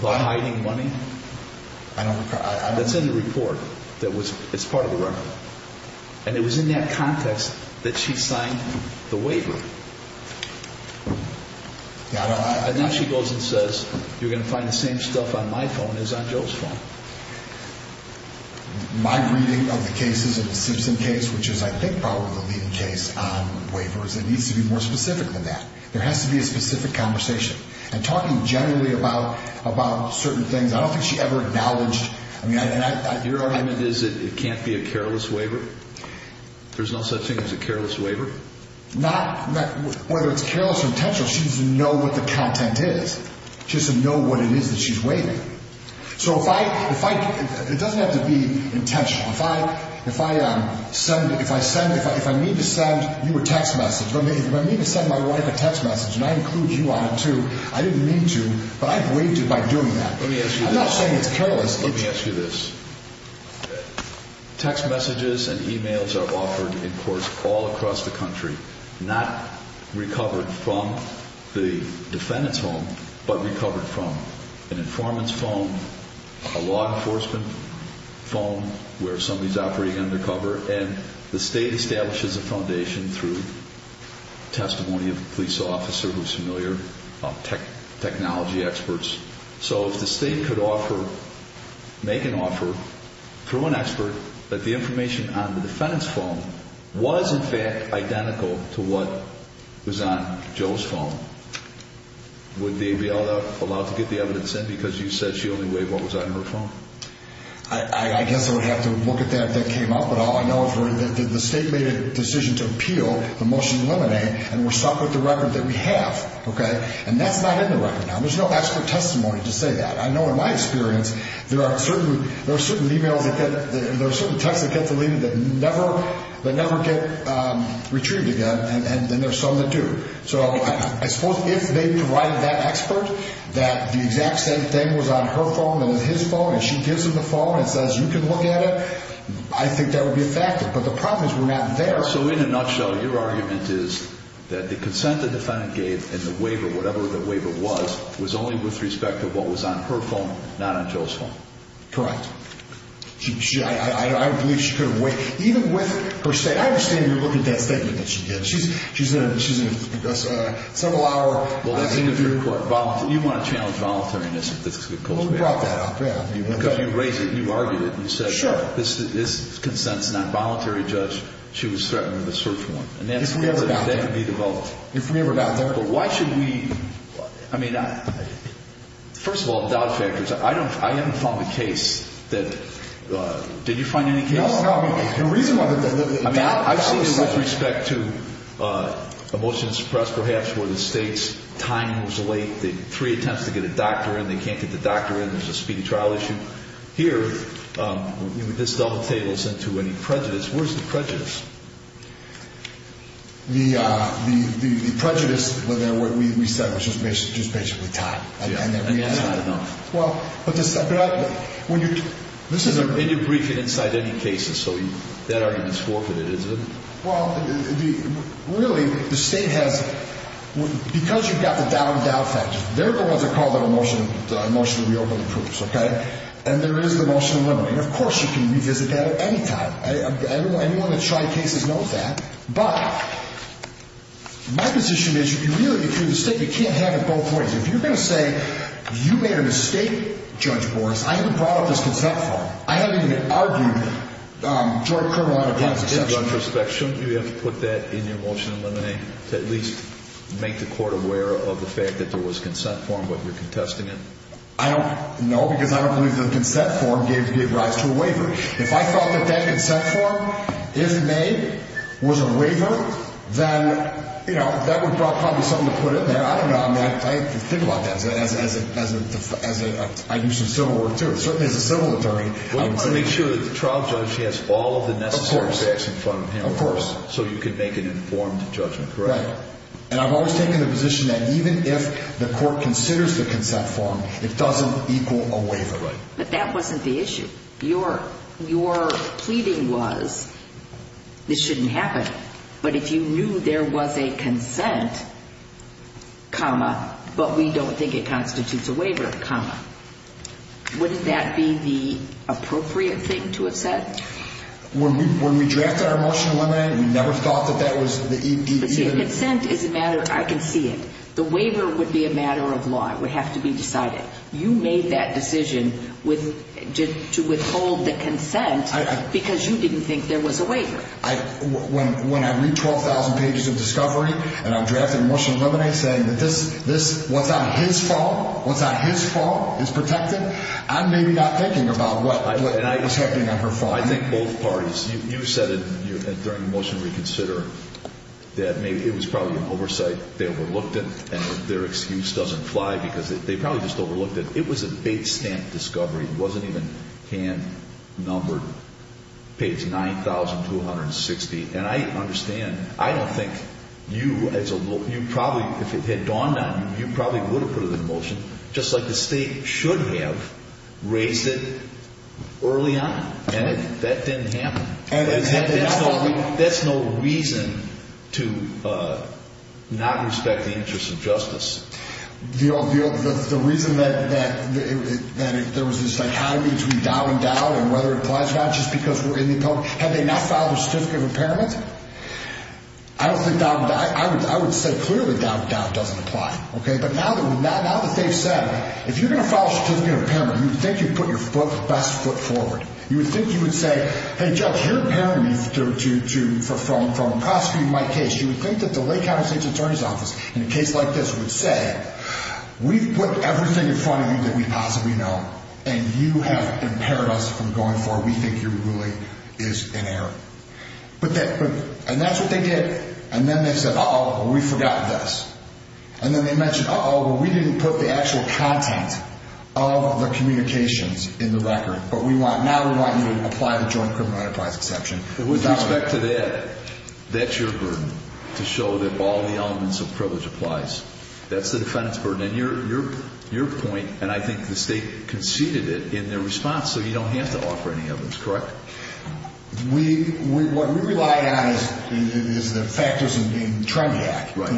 About hiding money? I don't recall. It's in the report that was, it's part of the record. And it was in that context that she signed the waiver. And now she goes and says, you're going to find the same stuff on my phone as on Joe's phone. My reading of the case isn't the Simpson case, which is I think probably the leading case on waivers. It needs to be more specific than that. There has to be a specific conversation. And talking generally about certain things, I don't think she ever acknowledged. Your argument is that it can't be a careless waiver? There's no such thing as a careless waiver? Whether it's careless or intentional, she doesn't know what the content is. She doesn't know what it is that she's waiving. So if I, it doesn't have to be intentional. If I send, if I mean to send you a text message, if I mean to send my wife a text message, and I include you on it too, I didn't mean to, but I waived it by doing that. Let me ask you this. I'm not saying it's careless. Let me ask you this. Text messages and e-mails are offered in court all across the country, not recovered from the defendant's home, but recovered from an informant's phone, a law enforcement phone where somebody's operating undercover, and the state establishes a foundation through testimony of a police officer who's familiar, technology experts. So if the state could offer, make an offer through an expert that the information on the defendant's phone was in fact identical to what was on Joe's phone, would they be allowed to get the evidence in? Because you said she only waived what was on her phone. I guess I would have to look at that if that came up. But all I know is the state made a decision to appeal the motion to eliminate, and we're stuck with the record that we have. Okay? And that's not in the record. There's no expert testimony to say that. I know in my experience there are certain e-mails, there are certain texts that get deleted that never get retrieved again, and there are some that do. So I suppose if they provided that expert that the exact same thing was on her phone and his phone, and she gives him the phone and says you can look at it, I think that would be effective. But the problem is we're not there. So in a nutshell, your argument is that the consent the defendant gave and the waiver, whatever the waiver was, was only with respect to what was on her phone, not on Joe's phone. Correct. I believe she could have waived, even with her statement. I understand you're looking at that statement that she gave. She's in a several-hour. Well, the thing of your court, you want to challenge voluntariness. Well, we brought that up, yeah. Because you raised it, you argued it. Sure. This consent's not voluntary, Judge. She was threatened with a search warrant. And that could be developed. If we ever got there. But why should we – I mean, first of all, the doubt factor is I haven't found a case that – did you find any cases? No, no. The reason why – I mean, I've seen it with respect to emotions suppressed perhaps where the state's timing was late, the three attempts to get a doctor in, they can't get the doctor in, there's a speedy trial issue. Here, this double tables into any prejudice. Where's the prejudice? The prejudice we said was just basically time. And that's not enough. Well, but this – And you're briefing inside any cases, so that argument's forfeited, isn't it? Well, really, the state has – because you've got the doubt factor, they're the ones that call that emotionally over the proofs, okay? And there is the motion to eliminate. And, of course, you can revisit that at any time. Anyone that's tried cases knows that. But my position is you can really – if you're the state, you can't have it both ways. If you're going to say you made a mistake, Judge Boris, I even brought up this consent form. I haven't even argued it. Drug, criminal, unaccompanied sexual – You have to put that in your motion to eliminate, to at least make the court aware of the fact that there was a consent form, but you're contesting it. I don't – no, because I don't believe the consent form gave rise to a waiver. If I thought that that consent form is made, was a waiver, then, you know, that would probably be something to put in there. I don't know. I mean, I think about that as a – I do some civil work, too, certainly as a civil attorney. I make sure that the trial judge has all of the necessary facts in front of him. Of course. So you can make an informed judgment, correct? Right. And I've always taken the position that even if the court considers the consent form, it doesn't equal a waiver. Right. But that wasn't the issue. Your pleading was this shouldn't happen. But if you knew there was a consent, comma, but we don't think it constitutes a waiver, comma, wouldn't that be the appropriate thing to have said? When we drafted our motion to eliminate, we never thought that that was the – But see, consent is a matter – I can see it. The waiver would be a matter of law. It would have to be decided. You made that decision to withhold the consent because you didn't think there was a waiver. When I read 12,000 pages of discovery and I'm drafting a motion to eliminate saying that this – I'm maybe not thinking about what is happening on her farm. I think both parties – you said during the motion to reconsider that it was probably an oversight they overlooked it and their excuse doesn't fly because they probably just overlooked it. It was a big stamp discovery. It wasn't even hand-numbered, page 9,260. And I understand – I don't think you as a – you probably – if it had dawned on you, you probably would have put it in the motion just like the state should have raised it early on. And that didn't happen. That's no reason to not respect the interests of justice. The reason that there was this dichotomy between doubt and doubt and whether it applies or not just because we're in the – have they not filed a certificate of impairment? I don't think doubt – I would say clearly doubt doesn't apply. But now that they've said, if you're going to file a certificate of impairment, you think you've put your best foot forward. You would think you would say, hey, Judge, you're impairing me from prosecuting my case. You would think that the Lake County State Attorney's Office in a case like this would say, we've put everything in front of you that we possibly know and you have impaired us from going forward. We think you really is in error. And that's what they did. And then they said, uh-oh, we forgot this. And then they mentioned, uh-oh, we didn't put the actual content of the communications in the record. But we want – now we want you to apply the joint criminal enterprise exception. With respect to that, that's your burden, to show that all the elements of privilege applies. That's the defendant's burden. And your point, and I think the state conceded it in their response, so you don't have to offer any evidence, correct? We – what we relied on is the factors of being Trendiac. Right.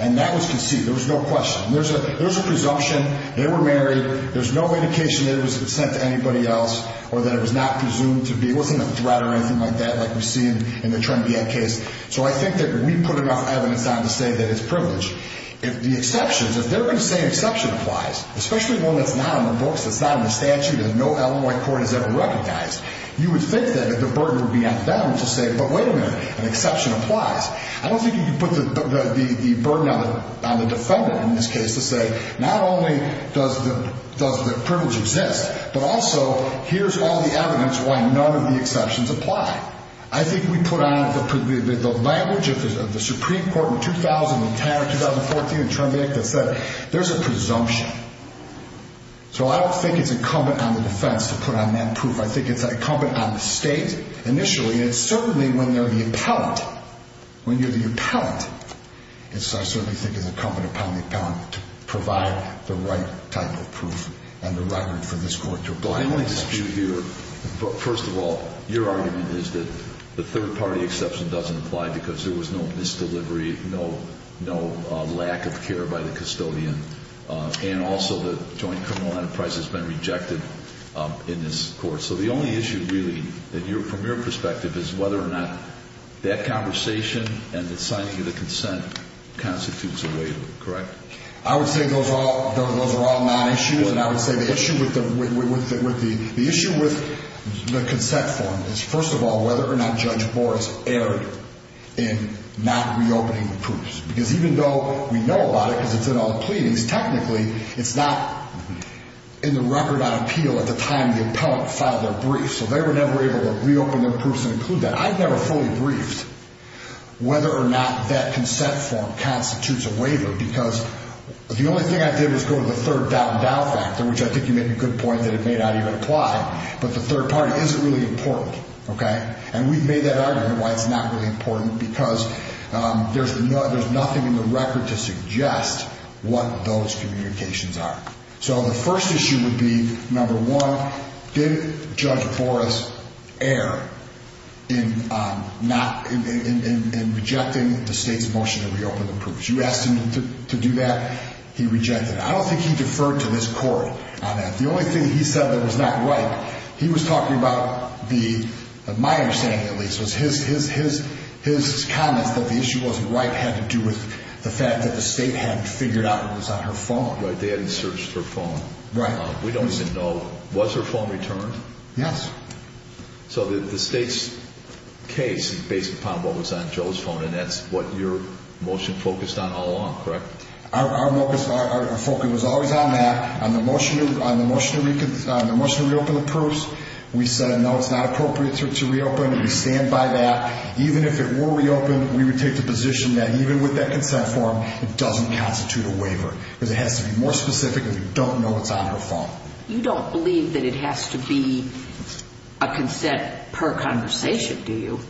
And that was conceded. There was no question. There's a presumption they were married. There's no indication that it was sent to anybody else or that it was not presumed to be. It wasn't a threat or anything like that like we see in the Trendiac case. So I think that we put enough evidence on to say that it's privilege. The exceptions, if they're going to say an exception applies, especially one that's not on the books, that's not in the statute and no Illinois court has ever recognized, you would think that the burden would be on them to say, but wait a minute, an exception applies. I don't think you can put the burden on the defendant in this case to say not only does the privilege exist, but also here's all the evidence why none of the exceptions apply. I think we put on the language of the Supreme Court in 2010 or 2014 in Trendiac that said there's a presumption. So I don't think it's incumbent on the defense to put on that proof. I think it's incumbent on the state initially, and certainly when you're the appellant, I certainly think it's incumbent upon the appellant to provide the right type of proof and the record for this court to apply. I want to dispute here, first of all, your argument is that the third-party exception doesn't apply because there was no misdelivery, no lack of care by the custodian, and also the joint criminal enterprise has been rejected in this court. So the only issue really from your perspective is whether or not that conversation and the signing of the consent constitutes a waiver, correct? I would say those are all non-issues, and I would say the issue with the consent form is, first of all, whether or not Judge Boris erred in not reopening the proofs. Because even though we know about it because it's in all the pleadings, technically it's not in the record on appeal at the time the appellant filed their brief. So they were never able to reopen the proofs and include that. I've never fully briefed whether or not that consent form constitutes a waiver because the only thing I did was go to the third doubt and doubt factor, which I think you make a good point that it may not even apply, but the third party isn't really important, okay? And we've made that argument why it's not really important, because there's nothing in the record to suggest what those communications are. So the first issue would be, number one, did Judge Boris err in rejecting the state's motion to reopen the proofs? You asked him to do that, he rejected it. I don't think he deferred to this court on that. The only thing he said that was not right, he was talking about the, my understanding at least, was his comments that the issue wasn't right had to do with the fact that the state hadn't figured out it was on her phone. Right, they hadn't searched her phone. Right. We don't even know, was her phone returned? Yes. So the state's case, based upon what was on Joe's phone, and that's what your motion focused on all along, correct? Our focus was always on that. On the motion to reopen the proofs, we said no, it's not appropriate to reopen, and we stand by that. Even if it were reopened, we would take the position that even with that consent form, it doesn't constitute a waiver, because it has to be more specific, and we don't know it's on her phone. You don't believe that it has to be a consent per conversation, do you?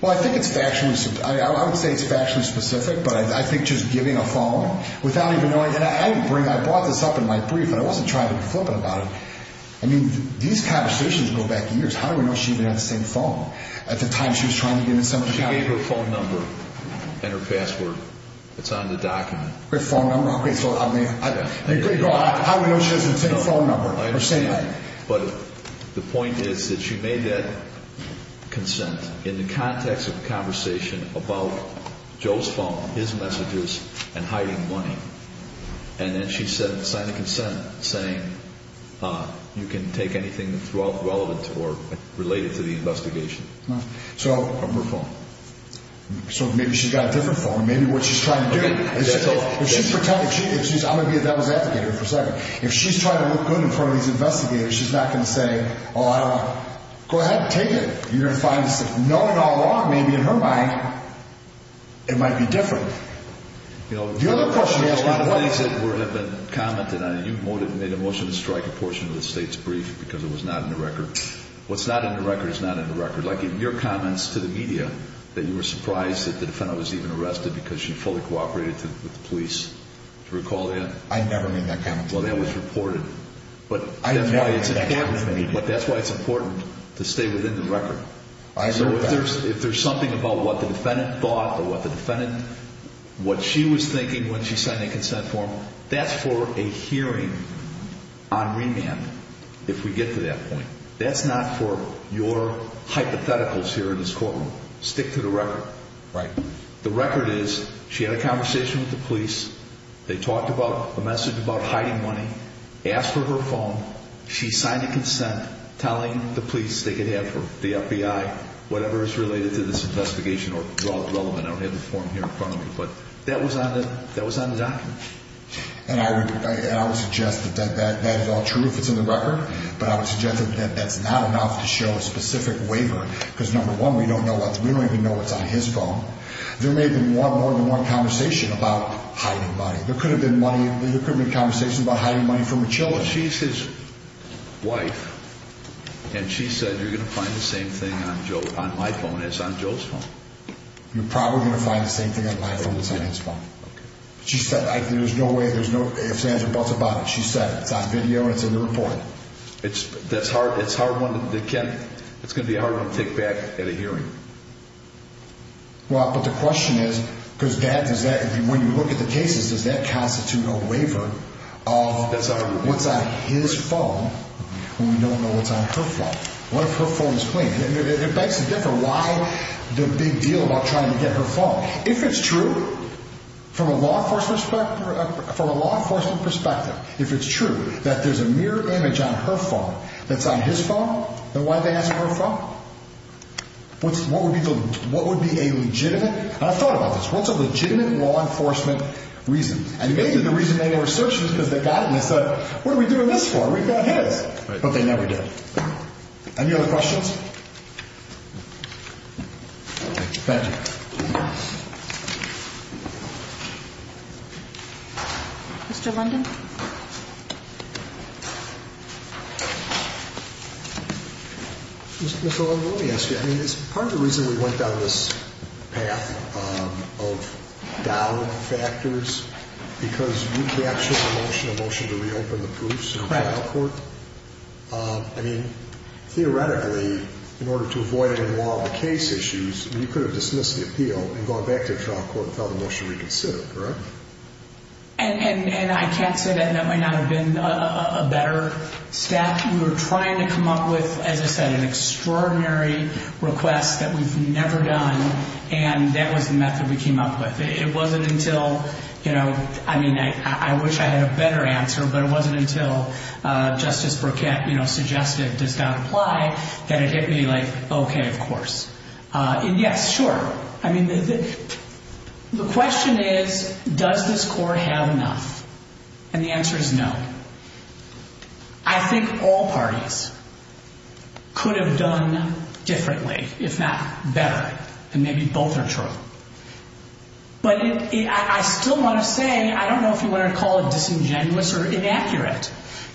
Well, I think it's factually, I would say it's factually specific, but I think just giving a phone without even knowing, and I brought this up in my brief, and I wasn't trying to be flippant about it. I mean, these conversations go back years. How do we know she even had the same phone at the time she was trying to give it to somebody? She gave her phone number and her password. It's on the document. Her phone number, okay, so how do we know she doesn't have the same phone number? But the point is that she made that consent in the context of a conversation about Joe's phone, his messages, and hiding money, and then she signed a consent saying you can take anything relevant or related to the investigation from her phone. So maybe she's got a different phone. Maybe what she's trying to do, if she's pretending, I'm going to be a devil's advocate here for a second. If she's trying to look good in front of these investigators, she's not going to say, oh, I don't know. Go ahead, take it. You're going to find this. Knowing all along, maybe in her mind, it might be different. The other question is, by the way. You made a motion to strike a portion of the state's brief because it was not in the record. What's not in the record is not in the record. Like in your comments to the media that you were surprised that the defendant was even arrested because she fully cooperated with the police. Do you recall that? I never made that comment. Well, that was reported. But that's why it's important to stay within the record. So if there's something about what the defendant thought or what the defendant, what she was thinking when she signed a consent form, that's for a hearing on remand if we get to that point. That's not for your hypotheticals here in this courtroom. Stick to the record. Right. The record is she had a conversation with the police. They talked about a message about hiding money, asked for her phone. She signed a consent telling the police they could have her, the FBI, whatever is related to this investigation or relevant. I don't have the form here in front of me. But that was on the document. And I would suggest that that is all true if it's in the record. But I would suggest that that's not enough to show a specific waiver because, number one, we don't even know what's on his phone. There may have been more than one conversation about hiding money. There could have been money. There could have been a conversation about hiding money from a child. She's his wife, and she said you're going to find the same thing on my phone as on Joe's phone. You're probably going to find the same thing on my phone as on his phone. Okay. She said there's no way, there's no ifs, ands, or buts about it. She said it's on video and it's in the report. It's hard one to get. It's going to be hard one to take back at a hearing. Well, but the question is, because when you look at the cases, does that constitute a waiver of what's on his phone when we don't know what's on her phone? What if her phone is clean? It makes a difference. Why the big deal about trying to get her phone? If it's true, from a law enforcement perspective, if it's true that there's a mirror image on her phone that's on his phone, then why did they ask for her phone? What would be a legitimate, and I've thought about this, what's a legitimate law enforcement reason? And maybe the reason they were searching is because they got it and they said, what are we doing this for? We've got his. But they never did. Any other questions? Thank you. Mr. London? Mr. London, let me ask you. I mean, it's part of the reason we went down this path of doubt factors, because we captured a motion to reopen the proofs in trial court. I mean, theoretically, in order to avoid any more of the case issues, you could have dismissed the appeal and gone back to trial court and filed a motion to reconsider, correct? I'd say that might not have been a better step. We were trying to come up with, as I said, an extraordinary request that we've never done. And that was the method we came up with. It wasn't until, you know, I mean, I wish I had a better answer, but it wasn't until Justice Burkett suggested it does not apply that it hit me like, OK, of course. Yes, sure. I mean, the question is, does this court have enough? And the answer is no. I think all parties could have done differently, if not better. And maybe both are true. But I still want to say, I don't know if you want to call it disingenuous or inaccurate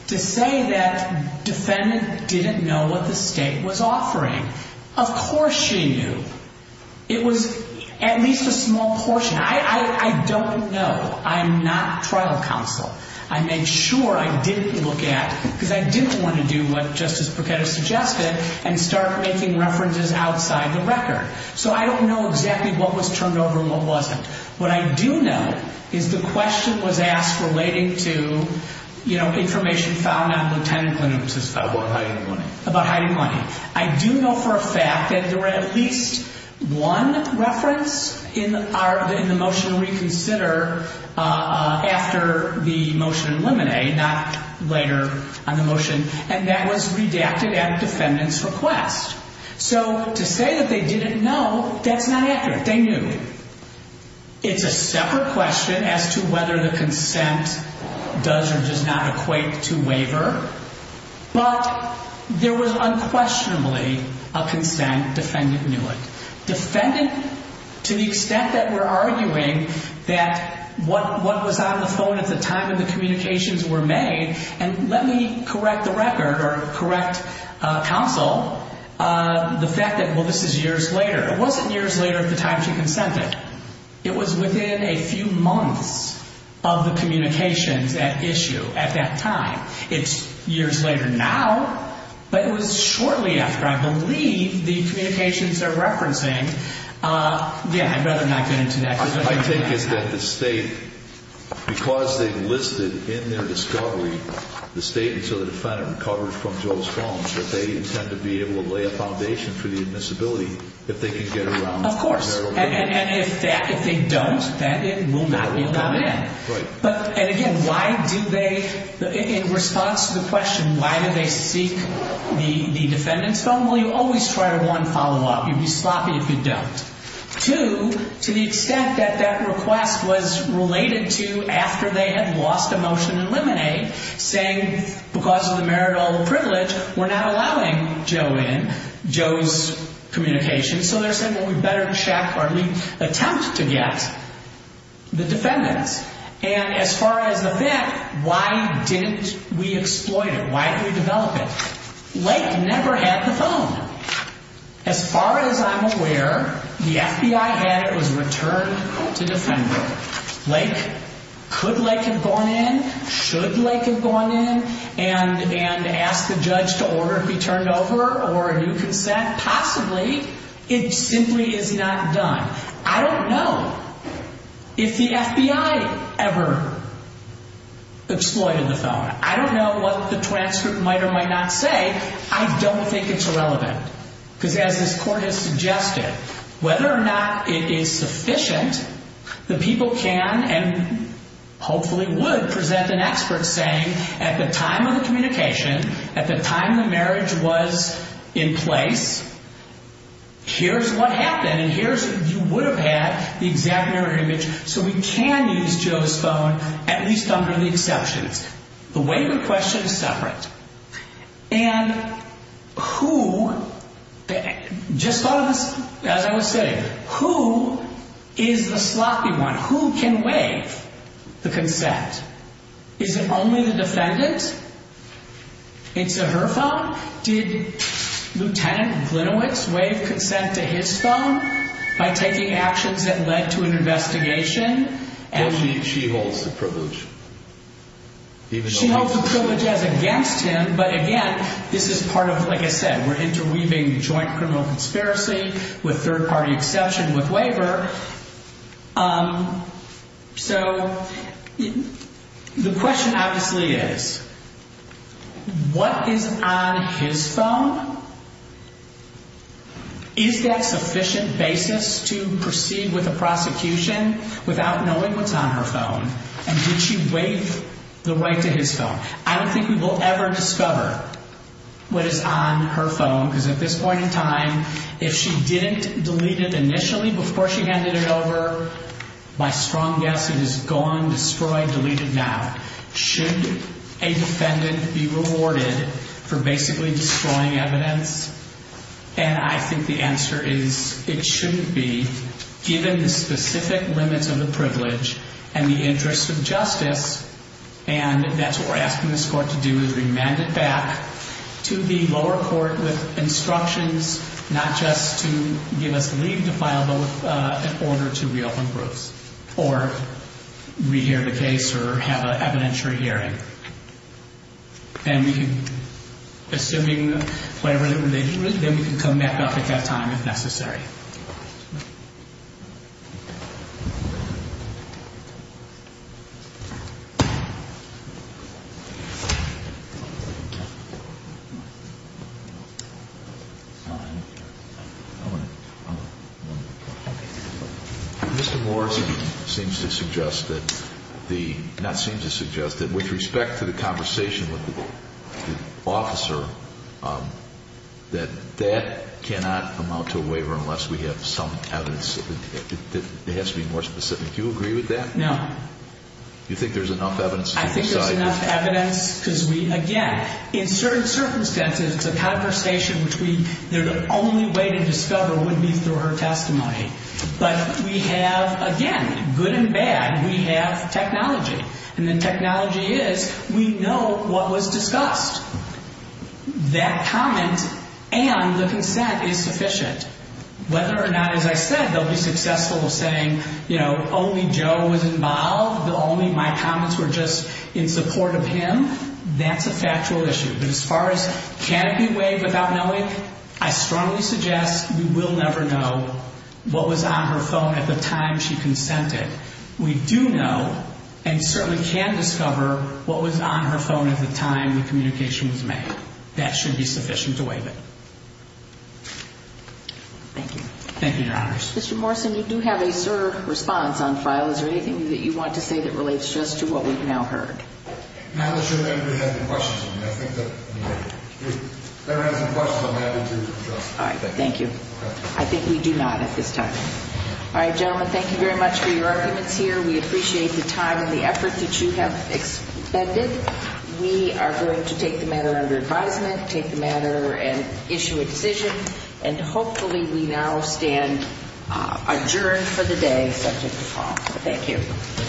to say that defendant didn't know what the state was offering. Of course she knew. It was at least a small portion. I don't know. I'm not trial counsel. I made sure I didn't look at, because I didn't want to do what Justice Burkett has suggested and start making references outside the record. So I don't know exactly what was turned over and what wasn't. What I do know is the question was asked relating to, you know, information found on Lieutenant Plano. About hiding money. About hiding money. I do know for a fact that there were at least one reference in the motion to reconsider after the motion eliminated, not later on the motion. And that was redacted at a defendant's request. So to say that they didn't know, that's not accurate. They knew. It's a separate question as to whether the consent does or does not equate to waiver. But there was unquestionably a consent. Defendant knew it. Defendant, to the extent that we're arguing that what was on the phone at the time of the communications were made, and let me correct the record or correct counsel, the fact that, well, this is years later. It wasn't years later at the time she consented. It was within a few months of the communications at issue at that time. It's years later now. But it was shortly after, I believe, the communications are referencing. Yeah, I'd rather not get into that. I think it's that the state, because they've listed in their discovery the statements of the defendant recovered from Joel's phone, that they intend to be able to lay a foundation for the admissibility if they can get around. Of course. And if they don't, then it will not be allowed in. Right. And again, why did they, in response to the question, why did they seek the defendant's phone? Well, you always try to, one, follow up. You'd be sloppy if you don't. Two, to the extent that that request was related to after they had lost a motion in Lemonade, saying because of the marital privilege, we're not allowing Joe in, Joe's communications. So they're saying, well, we'd better check or at least attempt to get the defendant's. And as far as the fact, why didn't we exploit it? Why didn't we develop it? Lake never had the phone. As far as I'm aware, the FBI had it. It was returned to defendant. Lake, could Lake have gone in? Should Lake have gone in and asked the judge to order it be turned over or a new consent? Possibly. It simply is not done. I don't know if the FBI ever exploited the phone. I don't know what the transcript might or might not say. I don't think it's irrelevant. Because as this court has suggested, whether or not it is sufficient, the people can and hopefully would present an expert saying at the time of the communication, at the time the marriage was in place, here's what happened. And here's what you would have had, the exact marriage. So we can use Joe's phone, at least under the exceptions. The waiver question is separate. And who, just as I was saying, who is the sloppy one? Who can waive the consent? Is it only the defendant? It's a her phone? Did Lieutenant Glinowitz waive consent to his phone by taking actions that led to an investigation? Well, she holds the privilege. She holds the privilege as against him, but again, this is part of, like I said, we're interweaving joint criminal conspiracy with third-party exception with waiver. So the question obviously is, what is on his phone? Is that sufficient basis to proceed with a prosecution without knowing what's on her phone? And did she waive the right to his phone? I don't think we will ever discover what is on her phone because at this point in time, if she didn't delete it initially before she handed it over, by strong guess, it is gone, destroyed, deleted now. Should a defendant be rewarded for basically destroying evidence? And I think the answer is it shouldn't be, given the specific limits of the privilege and the interest of justice, and that's what we're asking this court to do, is remand it back to the lower court with instructions not just to give us leave to file, but with an order to reopen groups or rehear the case or have an evidentiary hearing. And we can, assuming whatever the religion is, then we can come back up at that time if necessary. Mr. Morris seems to suggest that the, not seems to suggest, that with respect to the conversation with the officer, that that cannot amount to a waiver unless we have some evidence. It has to be more specific. Do you agree with that? No. You think there's enough evidence to decide? I think there's enough evidence because we, again, in certain circumstances, it's a conversation between the only way to discover would be through her testimony. But we have, again, good and bad, we have technology. And the technology is we know what was discussed. That comment and the consent is sufficient. Whether or not, as I said, they'll be successful in saying, you know, only Joe was involved, only my comments were just in support of him, that's a factual issue. But as far as can it be waived without knowing, I strongly suggest we will never know what was on her phone at the time she consented. We do know and certainly can discover what was on her phone at the time the communication was made. That should be sufficient to waive it. Thank you. Thank you, Your Honors. Mr. Morrison, you do have a certain response on file. Is there anything that you want to say that relates just to what we've now heard? Not unless you have any questions. If there are any questions, I'm happy to address them. All right, thank you. I think we do not at this time. All right, gentlemen, thank you very much for your arguments here. We appreciate the time and the effort that you have expended. We are going to take the matter under advisement, take the matter and issue a decision, and hopefully we now stand adjourned for the day subject to file. Thank you.